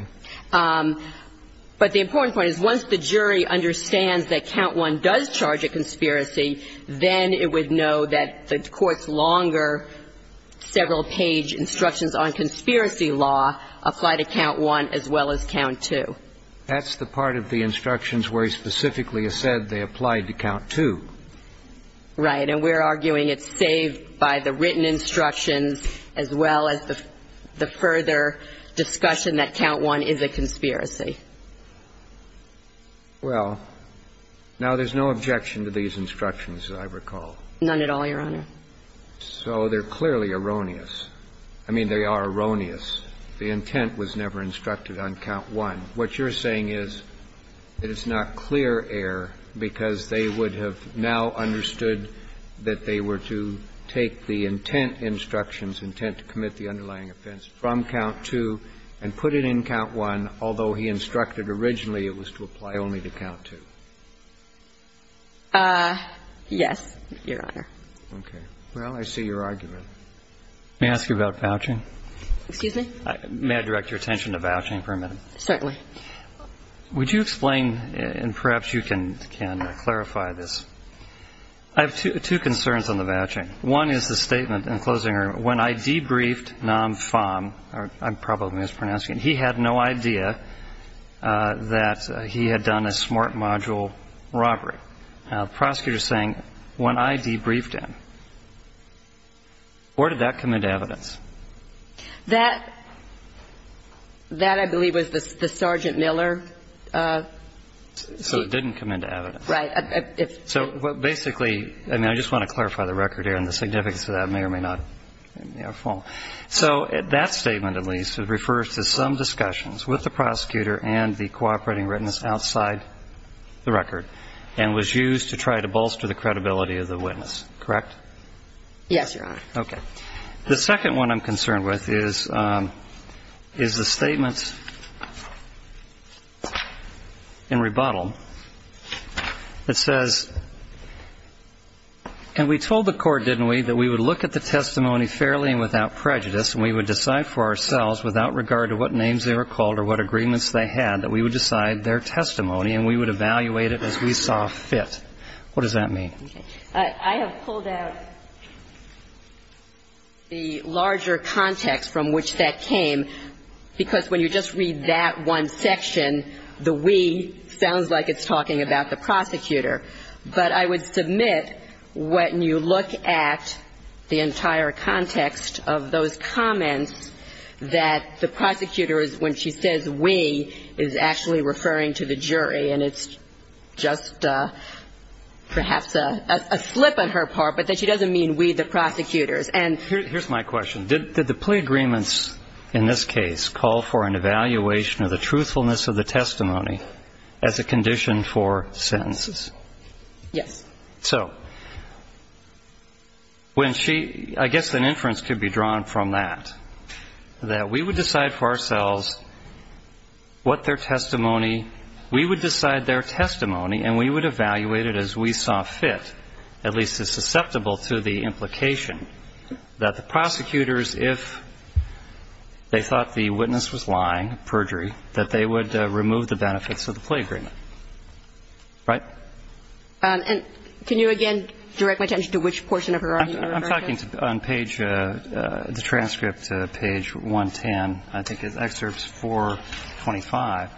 But the important point is once the jury understands that count one does charge a conspiracy, then it would know that the court's longer, several-page instructions on conspiracy law apply to count one as well as count two. That's the part of the instructions where he specifically has said they apply to count two. Right, and we're arguing it's saved by the written instructions as well as the further discussion that count one is a conspiracy. Well, now there's no objection to these instructions, as I recall. None at all, Your Honor. So they're clearly erroneous. I mean, they are erroneous. The intent was never instructed on count one. What you're saying is that it's not clear error because they would have now understood that they were to take the intent instructions, intent to commit the underlying offense, from count two and put it in count one, although he instructed originally it was to apply only to count two. Yes, Your Honor. Okay. Well, I see your argument. May I ask you about vouching? Excuse me? May I direct your attention to vouching for a minute? Certainly. Would you explain, and perhaps you can clarify this. I have two concerns on the vouching. One is the statement in closing, when I debriefed Nam Pham, I'm probably mispronouncing it, he had no idea that he had done a smart module robbery. The prosecutor is saying, when I debriefed him. Where did that come into evidence? That, I believe, was the Sergeant Miller. So it didn't come into evidence. Right. So basically, and I just want to clarify the record here and the significance of that. I may or may not fall. So that statement at least refers to some discussions with the prosecutor and the cooperating witness outside the record and was used to try to bolster the credibility of the witness. Correct? Yes, Your Honor. Okay. The second one I'm concerned with is the statement in rebuttal that says, and we told the court, didn't we, that we would look at the testimony fairly and without prejudice and we would decide for ourselves, without regard to what names they were called or what agreements they had, that we would decide their testimony and we would evaluate it as we saw fit. What does that mean? I have pulled out the larger context from which that came because when you just read that one section, the we sounds like it's talking about the prosecutor. But I would submit when you look at the entire context of those comments, that the prosecutor, when she says we, is actually referring to the jury and it's just perhaps a slip on her part, but she doesn't mean we, the prosecutors. Here's my question. Did the plea agreements in this case call for an evaluation of the truthfulness of the testimony as a condition for sentence? Yes. So I guess an inference could be drawn from that, that we would decide for ourselves what their testimony, we would decide their testimony and we would evaluate it as we saw fit, at least as susceptible to the implication, that the prosecutors, if they thought the witness was lying, perjury, that they would remove the benefits of the plea agreement. Right? And can you again direct my attention to which portion of her argument I'm referring to? I'm talking on page, the transcript, page 110. I think it's excerpts 425.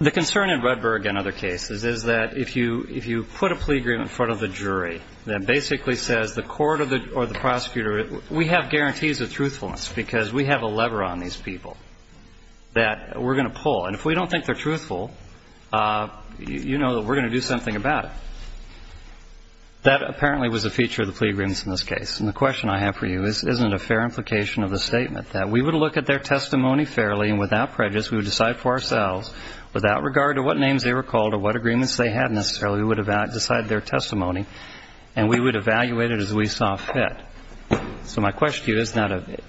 The concern in Redberg and other cases is that if you put a plea agreement in front of the jury that basically says the court or the prosecutor, we have guarantees of truthfulness because we have a lever on these people that we're going to pull. And if we don't think they're truthful, you know that we're going to do something about it. That apparently was a feature of the plea agreements in this case. And the question I have for you is isn't it a fair implication of the statement that we would look at their testimony fairly and without prejudice, we would decide for ourselves without regard to what names they were called or what agreements they had necessarily, we would decide their testimony and we would evaluate it as we saw fit. So my question to you is that it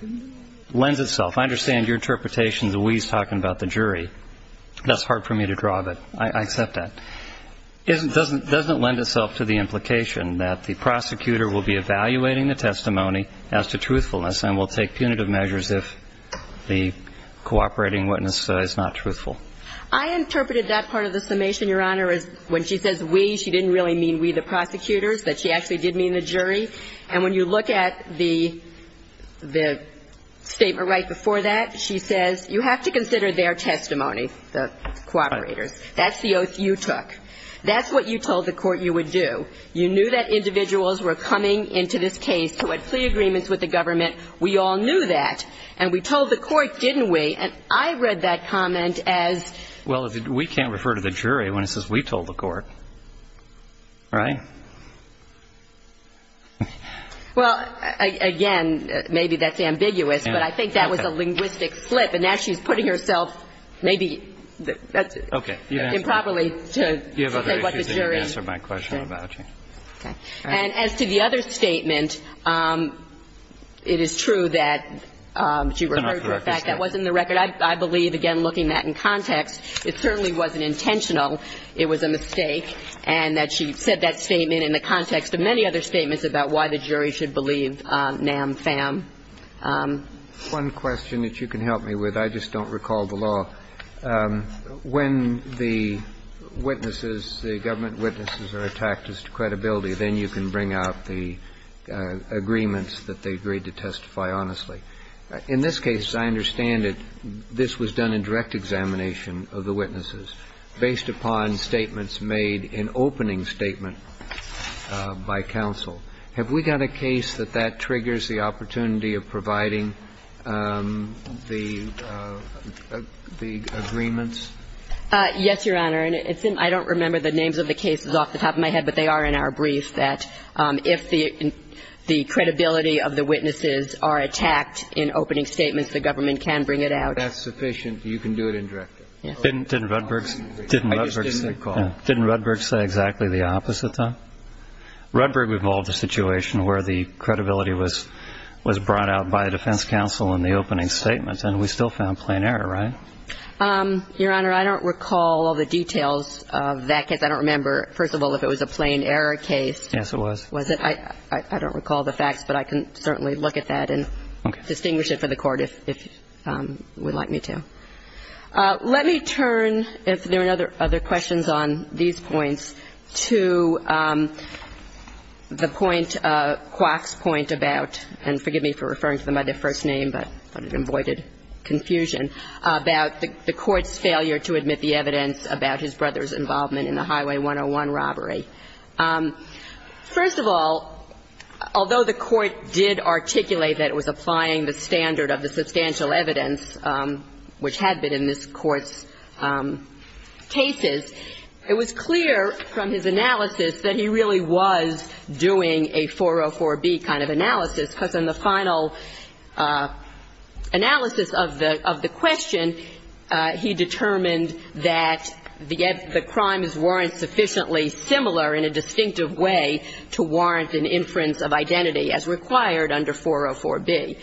lends itself. I understand your interpretation that we're talking about the jury. That's hard for me to draw, but I accept that. It doesn't lend itself to the implication that the prosecutor will be evaluating the testimony as to truthfulness and will take punitive measures if the cooperating witness is not truthful. I interpreted that part of the summation, Your Honor, as when she says we, she didn't really mean we the prosecutors, but she actually did mean the jury. And when you look at the statement right before that, she says you have to consider their testimony, the cooperators. That's the oath you took. That's what you told the court you would do. You knew that individuals were coming into this case to complete agreements with the government. We all knew that. And we told the court, didn't we? And I read that comment as... Well, we can't refer to the jury when it says we told the court. Right? Well, again, maybe that's ambiguous, but I think that was a linguistic flip. And now she's putting herself maybe improperly to say what the jury... You have a right to answer my question about you. And as to the other statement, it is true that she referred to the fact that wasn't the record. I believe, again, looking at it in context, it certainly wasn't intentional. It was a mistake. And that she said that statement in the context of many other statements about why the jury should believe NAM, FAM. One question that you can help me with. I just don't recall the law. When the government witnesses are attacked as to credibility, then you can bring out the agreements that they agreed to testify honestly. In this case, I understand that this was done in direct examination of the witnesses based upon statements made in opening statement by counsel. Have we got a case that that triggers the opportunity of providing the agreements? Yes, Your Honor. I don't remember the names of the cases off the top of my head, but they are in our briefs that if the credibility of the witnesses are attacked in opening statements, the government can bring it out. That's sufficient. You can do it indirectly. Didn't Rudberg say exactly the opposite, though? Rudberg involved a situation where the credibility was brought out by the defense counsel in the opening statements, and we still found plain error, right? Your Honor, I don't recall the details of that case. I don't remember, first of all, if it was a plain error case. Yes, it was. I don't recall the facts, but I can certainly look at that and distinguish it for the Court if you would like me to. Let me turn, if there are other questions on these points, to the point, Kwok's point about, and forgive me for referring to them by their first name, but I've avoided confusion, about the Court's failure to admit the evidence about his brother's involvement in the Highway 101 robbery. First of all, although the Court did articulate that it was applying the standard of the substantial evidence, which had been in this Court's cases, it was clear from his analysis that he really was doing a 404B kind of analysis, because in the final analysis of the question, he determined that the crimes weren't sufficiently similar in a distinctive way to warrant an inference of identity as required under 404B.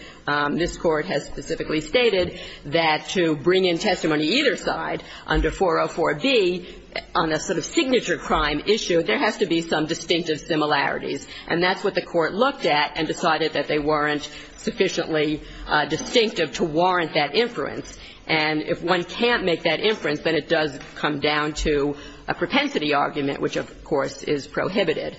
This Court has specifically stated that to bring in testimony either side, under 404B, on a sort of signature crime issue, there have to be some distinctive similarities. And that's what the Court looked at and decided that they weren't sufficiently distinctive to warrant that inference. And if one can't make that inference, then it does come down to a propensity argument, which, of course, is prohibited.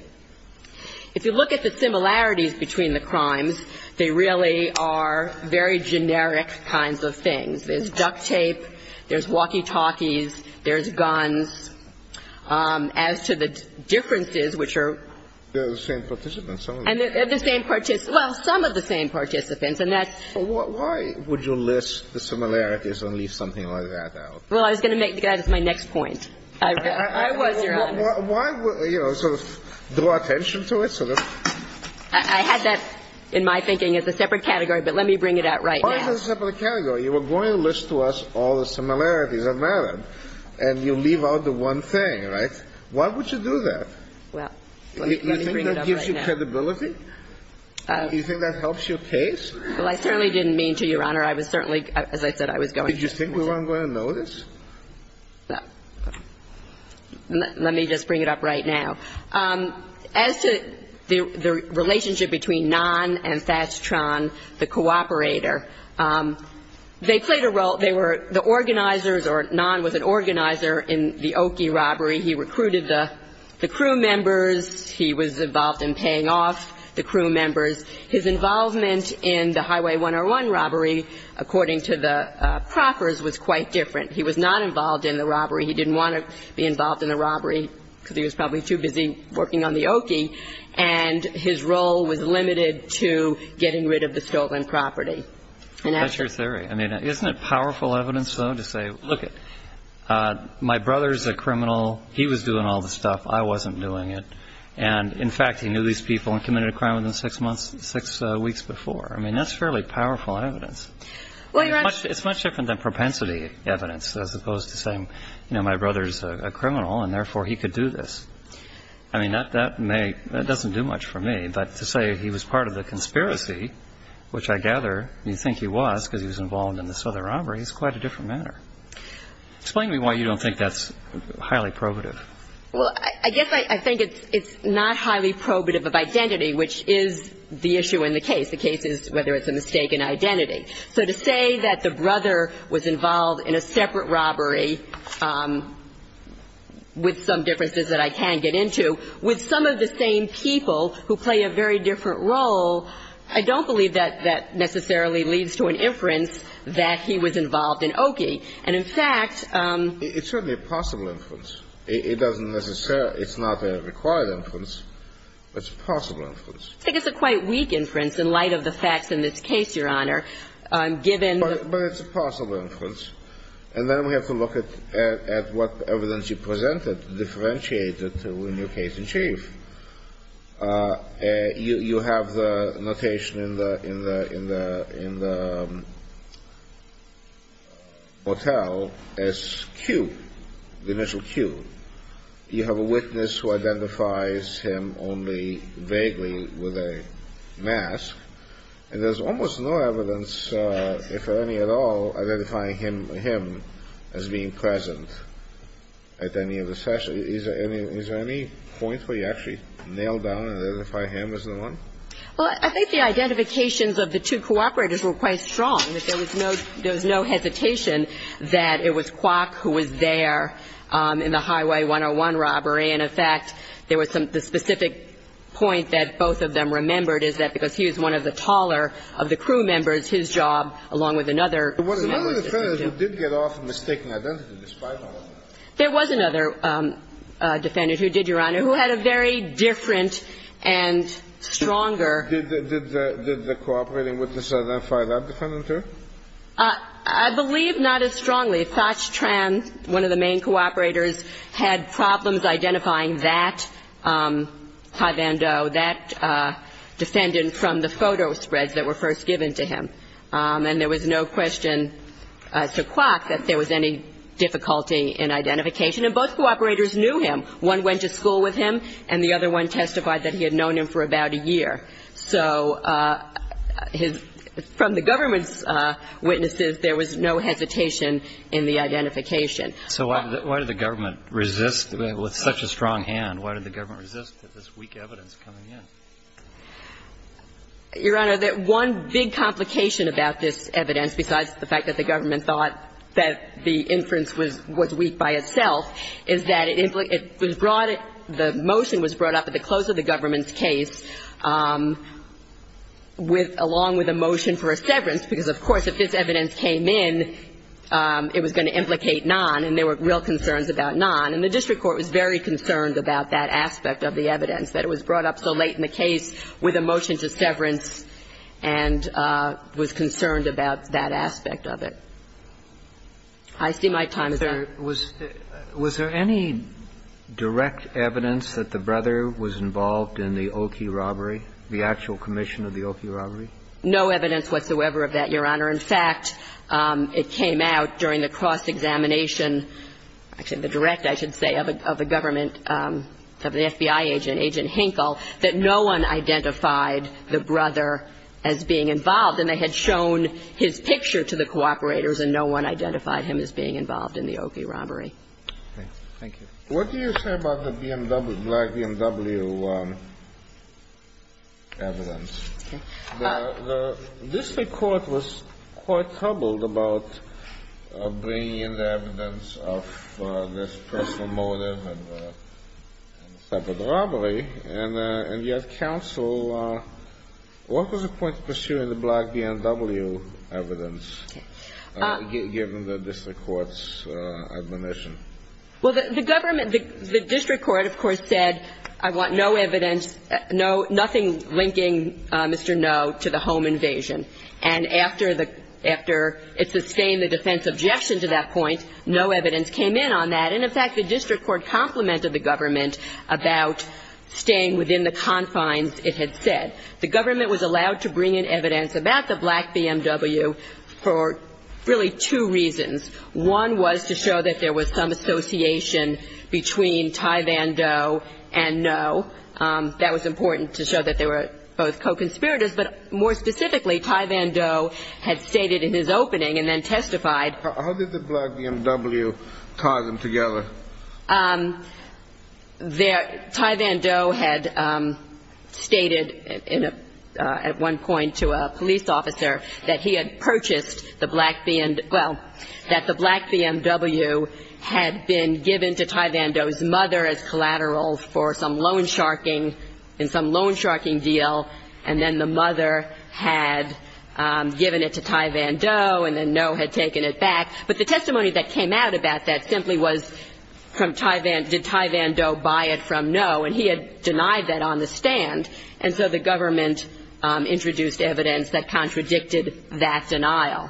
If you look at the similarities between the crimes, they really are very generic kinds of things. There's duct tape, there's walkie-talkies, there's guns. As to the differences, which are... They're the same participants, aren't they? They're the same participants. Well, some of the same participants, and that's... Why would you list the similarities and leave something like that out? Well, I was going to make that as my next point. Why would you sort of draw attention to it? I had that in my thinking as a separate category, but let me bring it out right now. Why is it a separate category? You were going to list to us all the similarities of merit, and you leave out the one thing, right? Why would you do that? You think that gives you credibility? You think that helps your case? Well, I certainly didn't mean to, Your Honor. I was certainly, as I said, I was going to... Did you think we weren't going to notice? Let me just bring it up right now. As to the relationship between Nahn and Fastron, the cooperator, they played a role. They were the organizers, or Nahn was an organizer in the Oki robbery. He recruited the crew members. He was involved in paying off the crew members. His involvement in the Highway 101 robbery, according to the Crockers, was quite different. He was not involved in the robbery. He didn't want to be involved in the robbery because he was probably too busy working on the Oki, and his role was limited to getting rid of the stolen property. That's your theory. I mean, isn't it powerful evidence, though, to say, look, my brother's a criminal. He was doing all this stuff. I wasn't doing it. And, in fact, he knew these people and committed a crime within six weeks before. I mean, that's fairly powerful evidence. It's much different than propensity evidence as opposed to saying, you know, my brother's a criminal and, therefore, he could do this. I mean, that doesn't do much for me, but to say he was part of the conspiracy, which I gather you think he was because he was involved in the Southern robbery, is quite a different matter. Explain to me why you don't think that's highly probative. Well, I guess I think it's not highly probative of identity, which is the issue in the case. The case is whether it's a mistake in identity. So to say that the brother was involved in a separate robbery, with some differences that I can't get into, with some of the same people who play a very different role, I don't believe that that necessarily leads to an inference that he was involved in Oki. And, in fact, It's certainly a possible inference. It doesn't necessarily, it's not a required inference, but it's a possible inference. I think it's a quite weak inference in light of the facts in this case, Your Honor, given But it's a possible inference. And then we have to look at what the evidence you presented differentiated in your case in chief. You have the notation in the motel as Q, the initial Q. You have a witness who identifies him only vaguely with a mask. And there's almost no evidence, if any at all, identifying him as being present at any of the sessions. Is there any point where you actually nailed down and identified him as the one? Well, I think the identifications of the two cooperators were quite strong. There was no hesitation that it was Kwok who was there in the Highway 101 robbery. And, in fact, there was some specific point that both of them remembered, is that because he was one of the taller of the crew members, his job, along with another. One of the defendants who did get off mistaking identity despite all of that. There was another defendant who did, Your Honor, who had a very different and stronger. Did the cooperating with the Shazam file that defendant, too? I believe not as strongly. Sach Tran, one of the main cooperators, had problems identifying that defendant from the photo spreads that were first given to him. And there was no question to Kwok that there was any difficulty in identification. And both cooperators knew him. One went to school with him, and the other one testified that he had known him for about a year. So from the government's witnesses, there was no hesitation in the identification. So why did the government resist with such a strong hand? Why did the government resist this weak evidence coming in? Your Honor, one big complication about this evidence, besides the fact that the government thought that the inference was weak by itself, is that the motion was brought up at the close of the government's case, along with a motion for a severance. Because, of course, if this evidence came in, it was going to implicate none, and there were real concerns about none. And the district court was very concerned about that aspect of the evidence, that it was brought up so late in the case with a motion to severance, and was concerned about that aspect of it. I see my time is up. Was there any direct evidence that the brother was involved in the Oki robbery, the actual commission of the Oki robbery? No evidence whatsoever of that, Your Honor. In fact, it came out during the cross-examination, actually the direct, I should say, of the government, of the FBI agent, Agent Hinkle, that no one identified the brother as being involved. And they had shown his picture to the cooperators, and no one identified him as being involved in the Oki robbery. Okay. Thank you. What do you say about the black BMW evidence? The district court was quite troubled about bringing in the evidence of this personal motive, of the robbery, and yet counsel, what was the point of pursuing the black BMW evidence, given the district court's admonition? Well, the government, the district court, of course, said, I want no evidence, nothing linking Mr. No to the home invasion. And after it sustained the defense's objection to that point, no evidence came in on that. And, in fact, the district court complimented the government about staying within the confines, it had said. The government was allowed to bring in evidence about the black BMW for really two reasons. One was to show that there was some association between Ty Van Do and No. That was important to show that they were both co-conspirators. But more specifically, Ty Van Do had stated in his opening and then testified. How did the black BMW tie them together? Ty Van Do had stated at one point to a police officer that he had purchased the black BMW, well, that the black BMW had been given to Ty Van Do's mother as collateral for some loan sharking, in some loan sharking deal, and then the mother had given it to Ty Van Do, and then No had taken it back. But the testimony that came out about that simply was, did Ty Van Do buy it from No? And he had denied that on the stand. And so the government introduced evidence that contradicted that denial.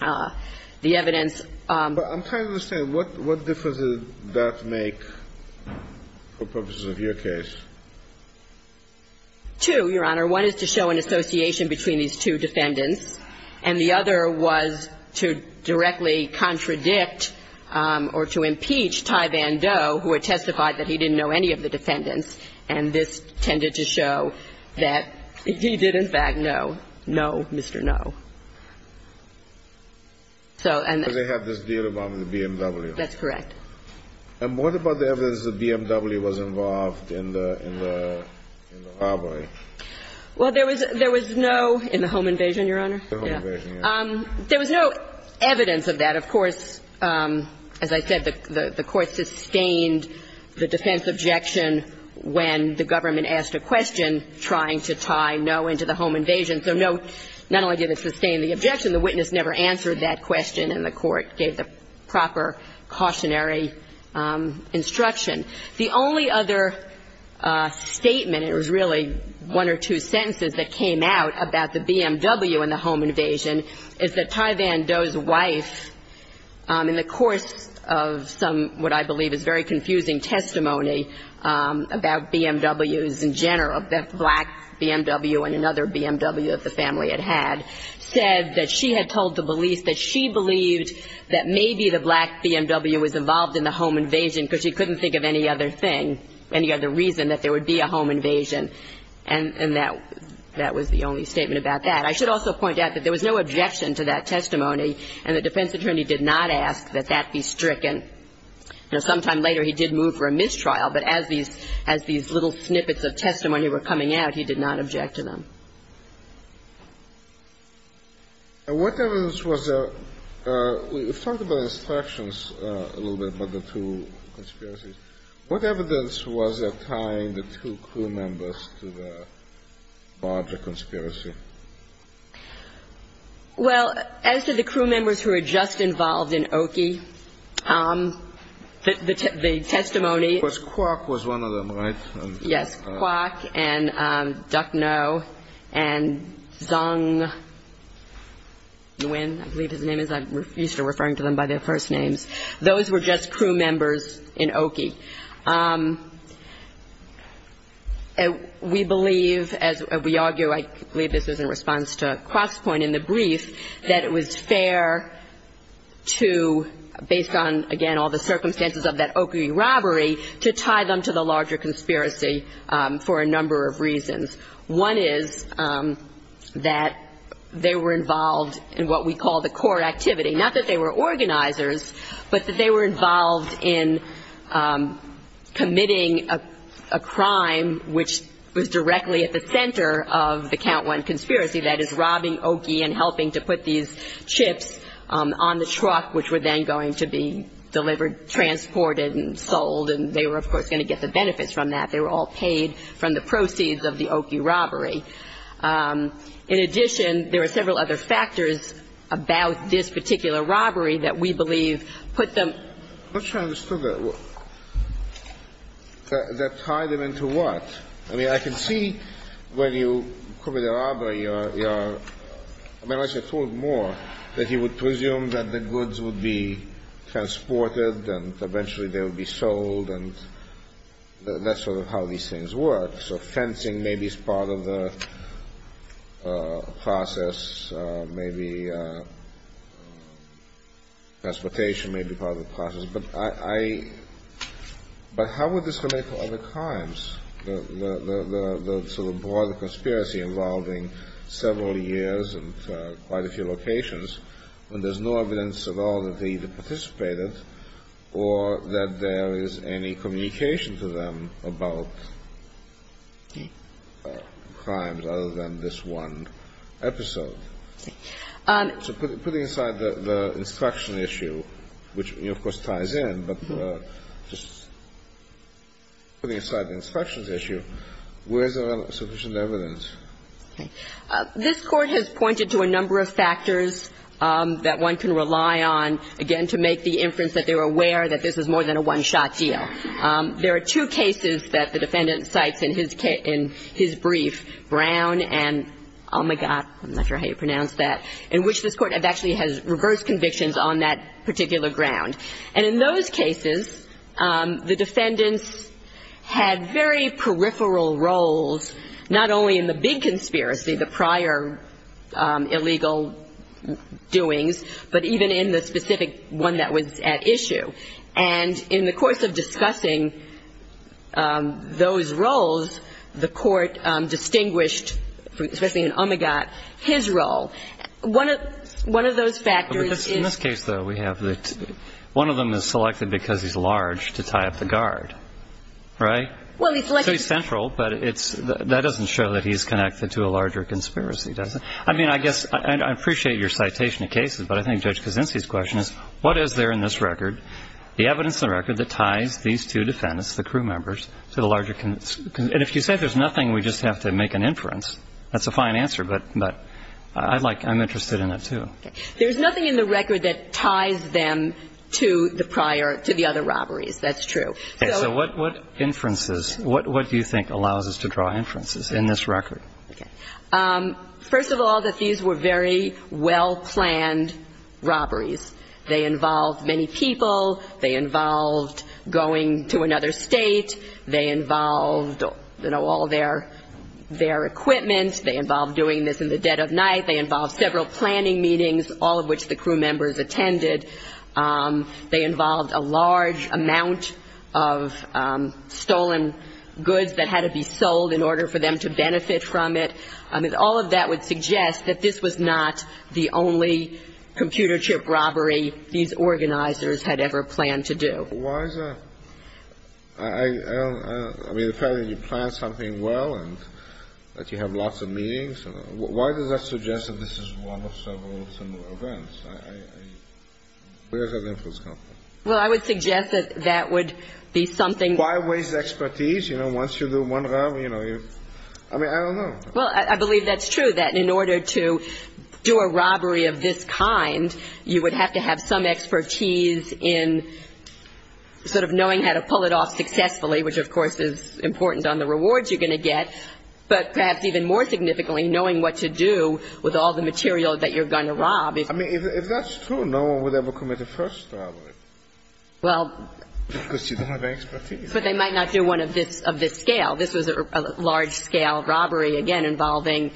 The evidence... I'm trying to understand. What difference does that make for purposes of your case? Two, Your Honor. One is to show an association between these two defendants. And the other was to directly contradict or to impeach Ty Van Do, who had testified that he didn't know any of the defendants. And this tended to show that he did, in fact, know Mr. No. So they have this deal about the BMW. That's correct. And what about the evidence that the BMW was involved in the robbery? Well, there was No in the home invasion, Your Honor. There was no evidence of that. Of course, as I said, the court sustained the defense objection when the government asked a question trying to tie No into the home invasion. So No not only did it sustain the objection, the witness never answered that question, and the court gave the proper cautionary instruction. The only other statement, it was really one or two sentences that came out about the BMW in the home invasion, is that Ty Van Do's wife, in the course of what I believe is very confusing testimony about BMWs in general, that black BMW and another BMW that the family had had, said that she had told the police that she believed that maybe the black BMW was involved in the home invasion because she couldn't think of any other thing, any other reason that there would be a home invasion. And that was the only statement about that. I should also point out that there was no objection to that testimony, and the defense attorney did not ask that that be stricken. Sometime later he did move for a mistrial, but as these little snippets of testimony were coming out, he did not object to them. And what evidence was there? Talk about instructions a little bit about the two conspiracies. What evidence was there tying the two crew members to the Barger conspiracy? Well, as to the crew members who were just involved in Oki, the testimony- Of course, Quark was one of them, right? Yes, Quark and Dufneau and Zong Nguyen, I believe his name is. I'm used to referring to them by their first names. Those were just crew members in Oki. We believe, as we argue, I believe this is in response to Quark's point in the brief, that it was fair to, based on, again, all the circumstances of that Oki robbery, to tie them to the larger conspiracy for a number of reasons. One is that they were involved in what we call the core activity. Not that they were organizers, but that they were involved in committing a crime, which was directly at the center of the Count 1 conspiracy, that is robbing Oki and helping to put these chips on the truck, which were then going to be delivered, transported, and sold, and they were, of course, going to get the benefits from that. They were all paid from the proceeds of the Oki robbery. In addition, there are several other factors about this particular robbery that we believe put them- I'm not sure I understood that. That tied them into what? I mean, I can see when you cover the robbery, I mean, I should have thought more, that he would presume that the goods would be transported, and eventually they would be sold, and that's sort of how these things work. So, fencing maybe is part of the process, maybe transportation may be part of the process, but how would this relate to other crimes? So, the broader conspiracy involving several years and quite a few locations, when there's no evidence at all that they participated, or that there is any communication to them about crimes other than this one episode. So, putting aside the instruction issue, which, of course, ties in, but just putting aside the instructions issue, where is there sufficient evidence? This Court has pointed to a number of factors that one can rely on, again, to make the inference that they're aware that this is more than a one-shot deal. There are two cases that the defendant cites in his brief, Brown and, oh my God, I'm not sure how you pronounce that, in which this Court actually has reversed convictions on that particular ground. And in those cases, the defendant had very peripheral roles, not only in the big conspiracy, the prior illegal doings, but even in the specific one that was at issue. And in the course of discussing those roles, the Court distinguished, especially in, oh my God, his role. One of those factors is... In this case, though, one of them is selected because he's large to tie up the guard, right? Well, he's like... It's pretty central, but that doesn't show that he's connected to a larger conspiracy, does it? I mean, I guess, and I appreciate your citation of cases, but I think Judge Kosinski's question is, what is there in this record, the evidence in the record that ties these two defendants, the crew members, to the larger... And if you said there's nothing, we just have to make an inference, that's a fine answer, but I'm interested in it, too. There's nothing in the record that ties them to the prior, to the other robberies. That's true. So what inferences, what do you think allows us to draw inferences in this record? First of all, that these were very well-planned robberies. They involved many people. They involved going to another state. They involved all their equipment. They involved doing this in the dead of night. They involved several planning meetings, all of which the crew members attended. They involved a large amount of stolen goods that had to be sold in order for them to benefit from it. All of that would suggest that this was not the only computer chip robbery these organizers had ever planned to do. Why is that? I mean, apparently you plan something well and that you have lots of meetings. Why does that suggest that this is one of several similar events? Well, I would suggest that that would be something... Why waste expertise? You know, once you do one robbery, you know, you... I mean, I don't know. Well, I believe that's true, that in order to do a robbery of this kind, you would have to have some expertise in sort of knowing how to pull it off successfully, which of course is important on the rewards you're going to get, but perhaps even more significantly, knowing what to do with all the material that you're going to rob. I mean, if that's true, no one would ever commit the first robbery. Well... Because you don't have expertise. But they might not do one of this scale. This is a large-scale robbery, again, involving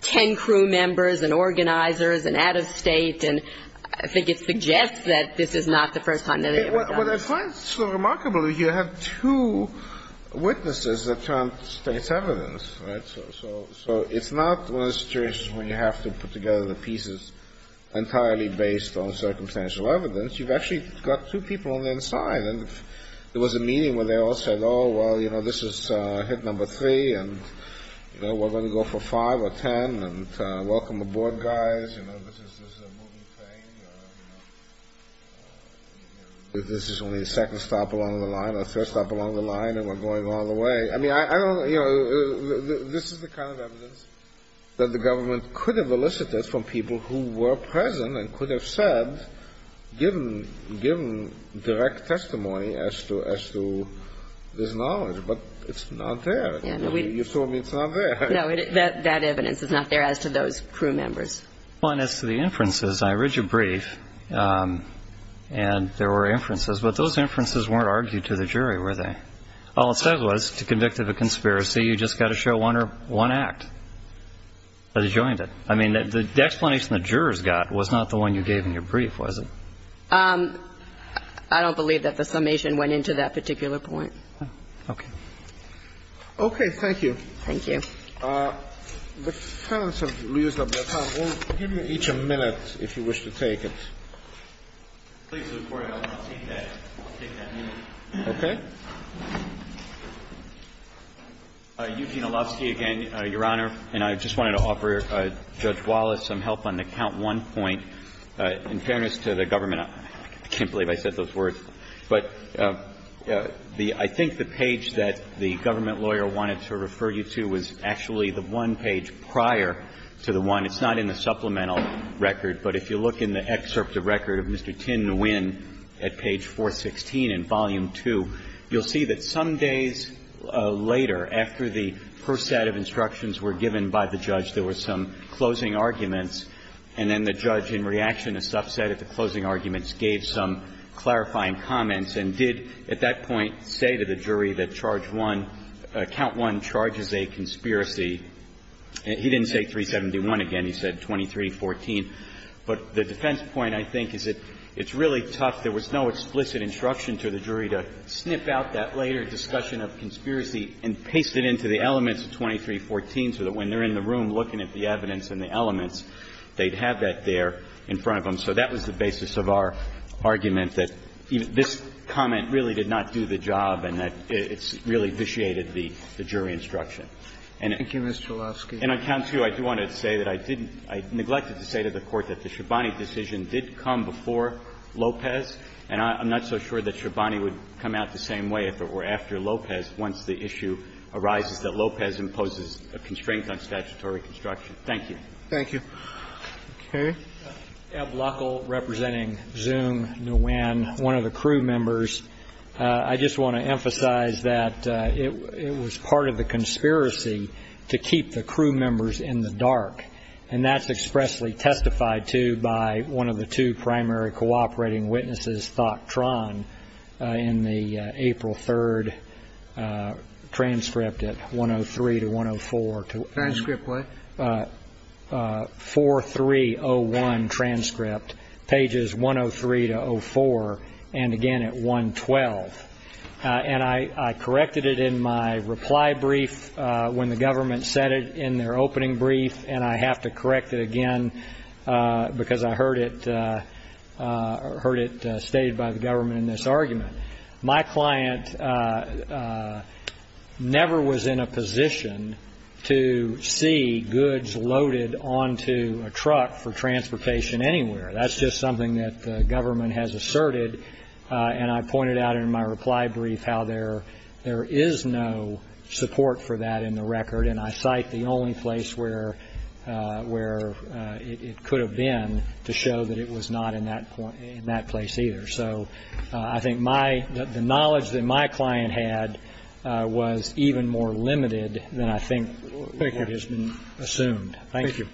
10 crew members and organizers and out-of-state, and I think it suggests that this is not the first time that it was done. Well, the point is, remarkably, you have two witnesses that count state's evidence, right? So it's not a situation where you have to put together the pieces entirely based on circumstantial evidence. You've actually got two people on the inside, and there was a meeting where they all said, oh, well, you know, this is hit number three, and we're going to go for five or ten, and welcome the board guys, you know, this is a moving thing. This is only the second stop along the line, or the first stop along the line, and we're going all the way. I mean, this is the kind of evidence that the government could have elicited from people who were present and could have said, given direct testimony as to this knowledge, but it's not there. You told me it's not there. No, that evidence is not there as to those crew members. As to the inferences, I read your brief, and there were inferences, but those inferences weren't argued to the jury, were they? All it said was, to convict of a conspiracy, you've just got to show one act. I joined it. I mean, the declination the jurors got was not the one you gave in your brief, was it? I don't believe that the summation went into that particular point. Okay. Okay, thank you. Thank you. The counsel, if you'll give me each a minute, if you wish to take it. Okay. Eugene Alovsky again, Your Honor, and I just wanted to offer Judge Wallace some help on the count one point. In fairness to the government, I can't believe I said those words, but I think the page that the government lawyer wanted to refer you to was actually the one page prior to the one. It's not in the supplemental record, but if you look in the excerpts of record of Mr. at page 416 in volume two, you'll see that some days later, after the first set of instructions were given by the judge, there were some closing arguments, and then the judge, in reaction to a subset of the closing arguments, gave some clarifying comments and did, at that point, say to the jury that count one charges a conspiracy. He didn't say 371 again. He said 2314. But the defense point, I think, is that it's really tough. There was no explicit instruction to the jury to sniff out that later discussion of conspiracy and paste it into the elements of 2314 so that when they're in the room looking at the evidence and the elements, they'd have that there in front of them. So that was the basis of our argument that this comment really did not do the job and that it really vitiated the jury instruction. Thank you, Mr. Alovsky. And on count two, I do want to say that I didn't ñ I neglected to say to the Court that the Schiabani decision did come before Lopez, and I'm not so sure that Schiabani would come out the same way if it were after Lopez once the issue arises that Lopez imposes a constraint on statutory construction. Thank you. Thank you. Okay. Ed Lockle, representing Zoom, Nguyen, one of the crew members. I just want to emphasize that it was part of the conspiracy to keep the crew members in the dark, and that's expressly testified to by one of the two primary cooperating witnesses, Thok Tran, in the April 3 transcript at 103 to 104. Transcript what? 4301 transcript, pages 103 to 04, and again at 112. And I corrected it in my reply brief when the government said it in their opening brief, and I have to correct it again because I heard it stated by the government in this argument. My client never was in a position to see goods loaded onto a truck for transportation anywhere. That's just something that the government has asserted, and I pointed out in my reply brief how there is no support for that in the record, and I cite the only place where it could have been to show that it was not in that place either. So I think the knowledge that my client had was even more limited than I think has been assumed. Thank you.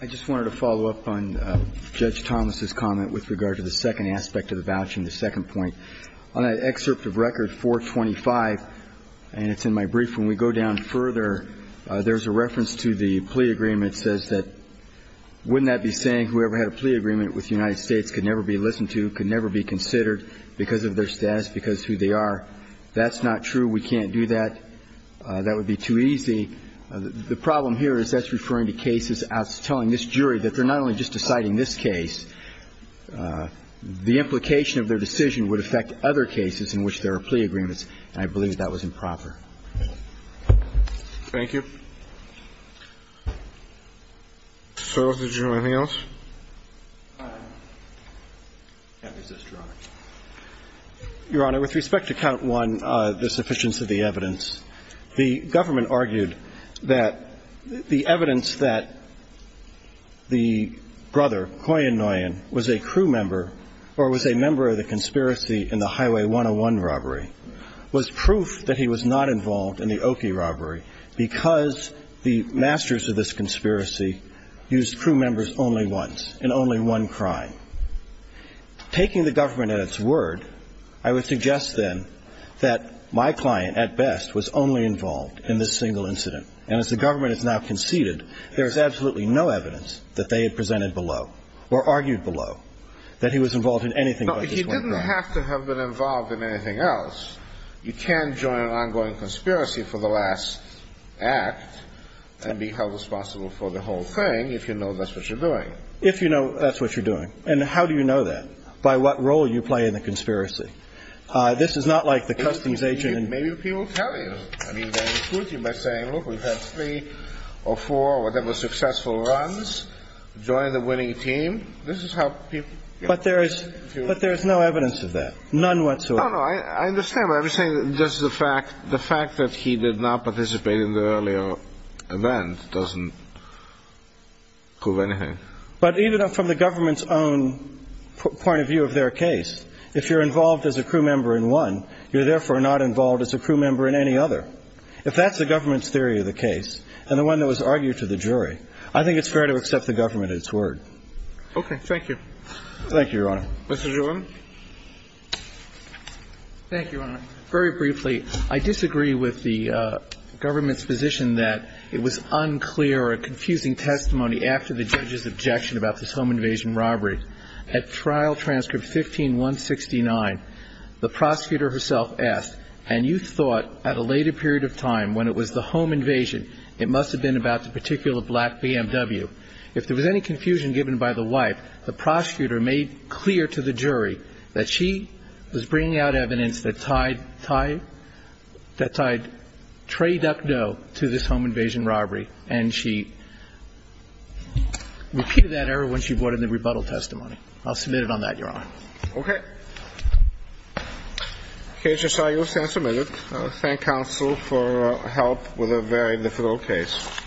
I just wanted to follow up on Judge Thomas' comment with regard to the second aspect of the voucher and the second point. On that excerpt of Record 425, and it's in my brief, when we go down further, there's a reference to the plea agreement that says that, wouldn't that be saying whoever had a plea agreement with the United States could never be listened to, could never be considered because of their status, because of who they are? That's not true. We can't do that. That would be too easy. The problem here is that's referring to cases as telling this jury that they're not only just deciding this case. The implication of their decision would affect other cases in which there are plea agreements, and I believe that was improper. Thank you. So did you have anything else? Your Honor, with respect to Count 1, the sufficiency of the evidence, the government argued that the evidence that the brother, Huyen Nguyen, was a crew member or was a member of the conspiracy in the Highway 101 robbery was proof that he was not involved in the Oki robbery because the masters of this conspiracy used crew members only once, in only one crime. Taking the government at its word, I would suggest then that my client, at best, was only involved in this single incident, and as the government has now conceded, there is absolutely no evidence that they had presented below or argued below that he was involved in anything else. But he didn't have to have been involved in anything else. You can join an ongoing conspiracy for the last act and be held responsible for the whole thing if you know that's what you're doing. If you know that's what you're doing. And how do you know that? By what role you play in the conspiracy. This is not like the customs agent... Maybe he will tell you. I mean, that's good. You might say, look, we've had three or four, whatever, successful runs. Join the winning team. This is how people... But there is no evidence of that. None whatsoever. No, no, I understand what you're saying. Just the fact that he did not participate in the earlier event doesn't prove anything. But even from the government's own point of view of their case, if you're involved as a crew member in one, you're therefore not involved as a crew member in any other. If that's the government's theory of the case, and the one that was argued to the jury, I think it's fair to accept the government at its word. Okay, thank you. Thank you, Your Honor. Mr. Jerome? Thank you, Your Honor. Very briefly, I disagree with the government's position that it was unclear or a confusing testimony after the judge's objection about this home invasion robbery. At trial transcript 15169, the prosecutor herself asked, and you thought at a later period of time when it was the home invasion, it must have been about the particular black BMW. If there was any confusion given by the wife, the prosecutor made clear to the jury that she was bringing out evidence that tied trade-up dough to this home invasion robbery, and she repeated that error when she brought in the rebuttal testimony. I'll submit it on that, Your Honor. Okay. The case is signed. You'll stand for a minute. I thank counsel for help with a very difficult case. Thank you.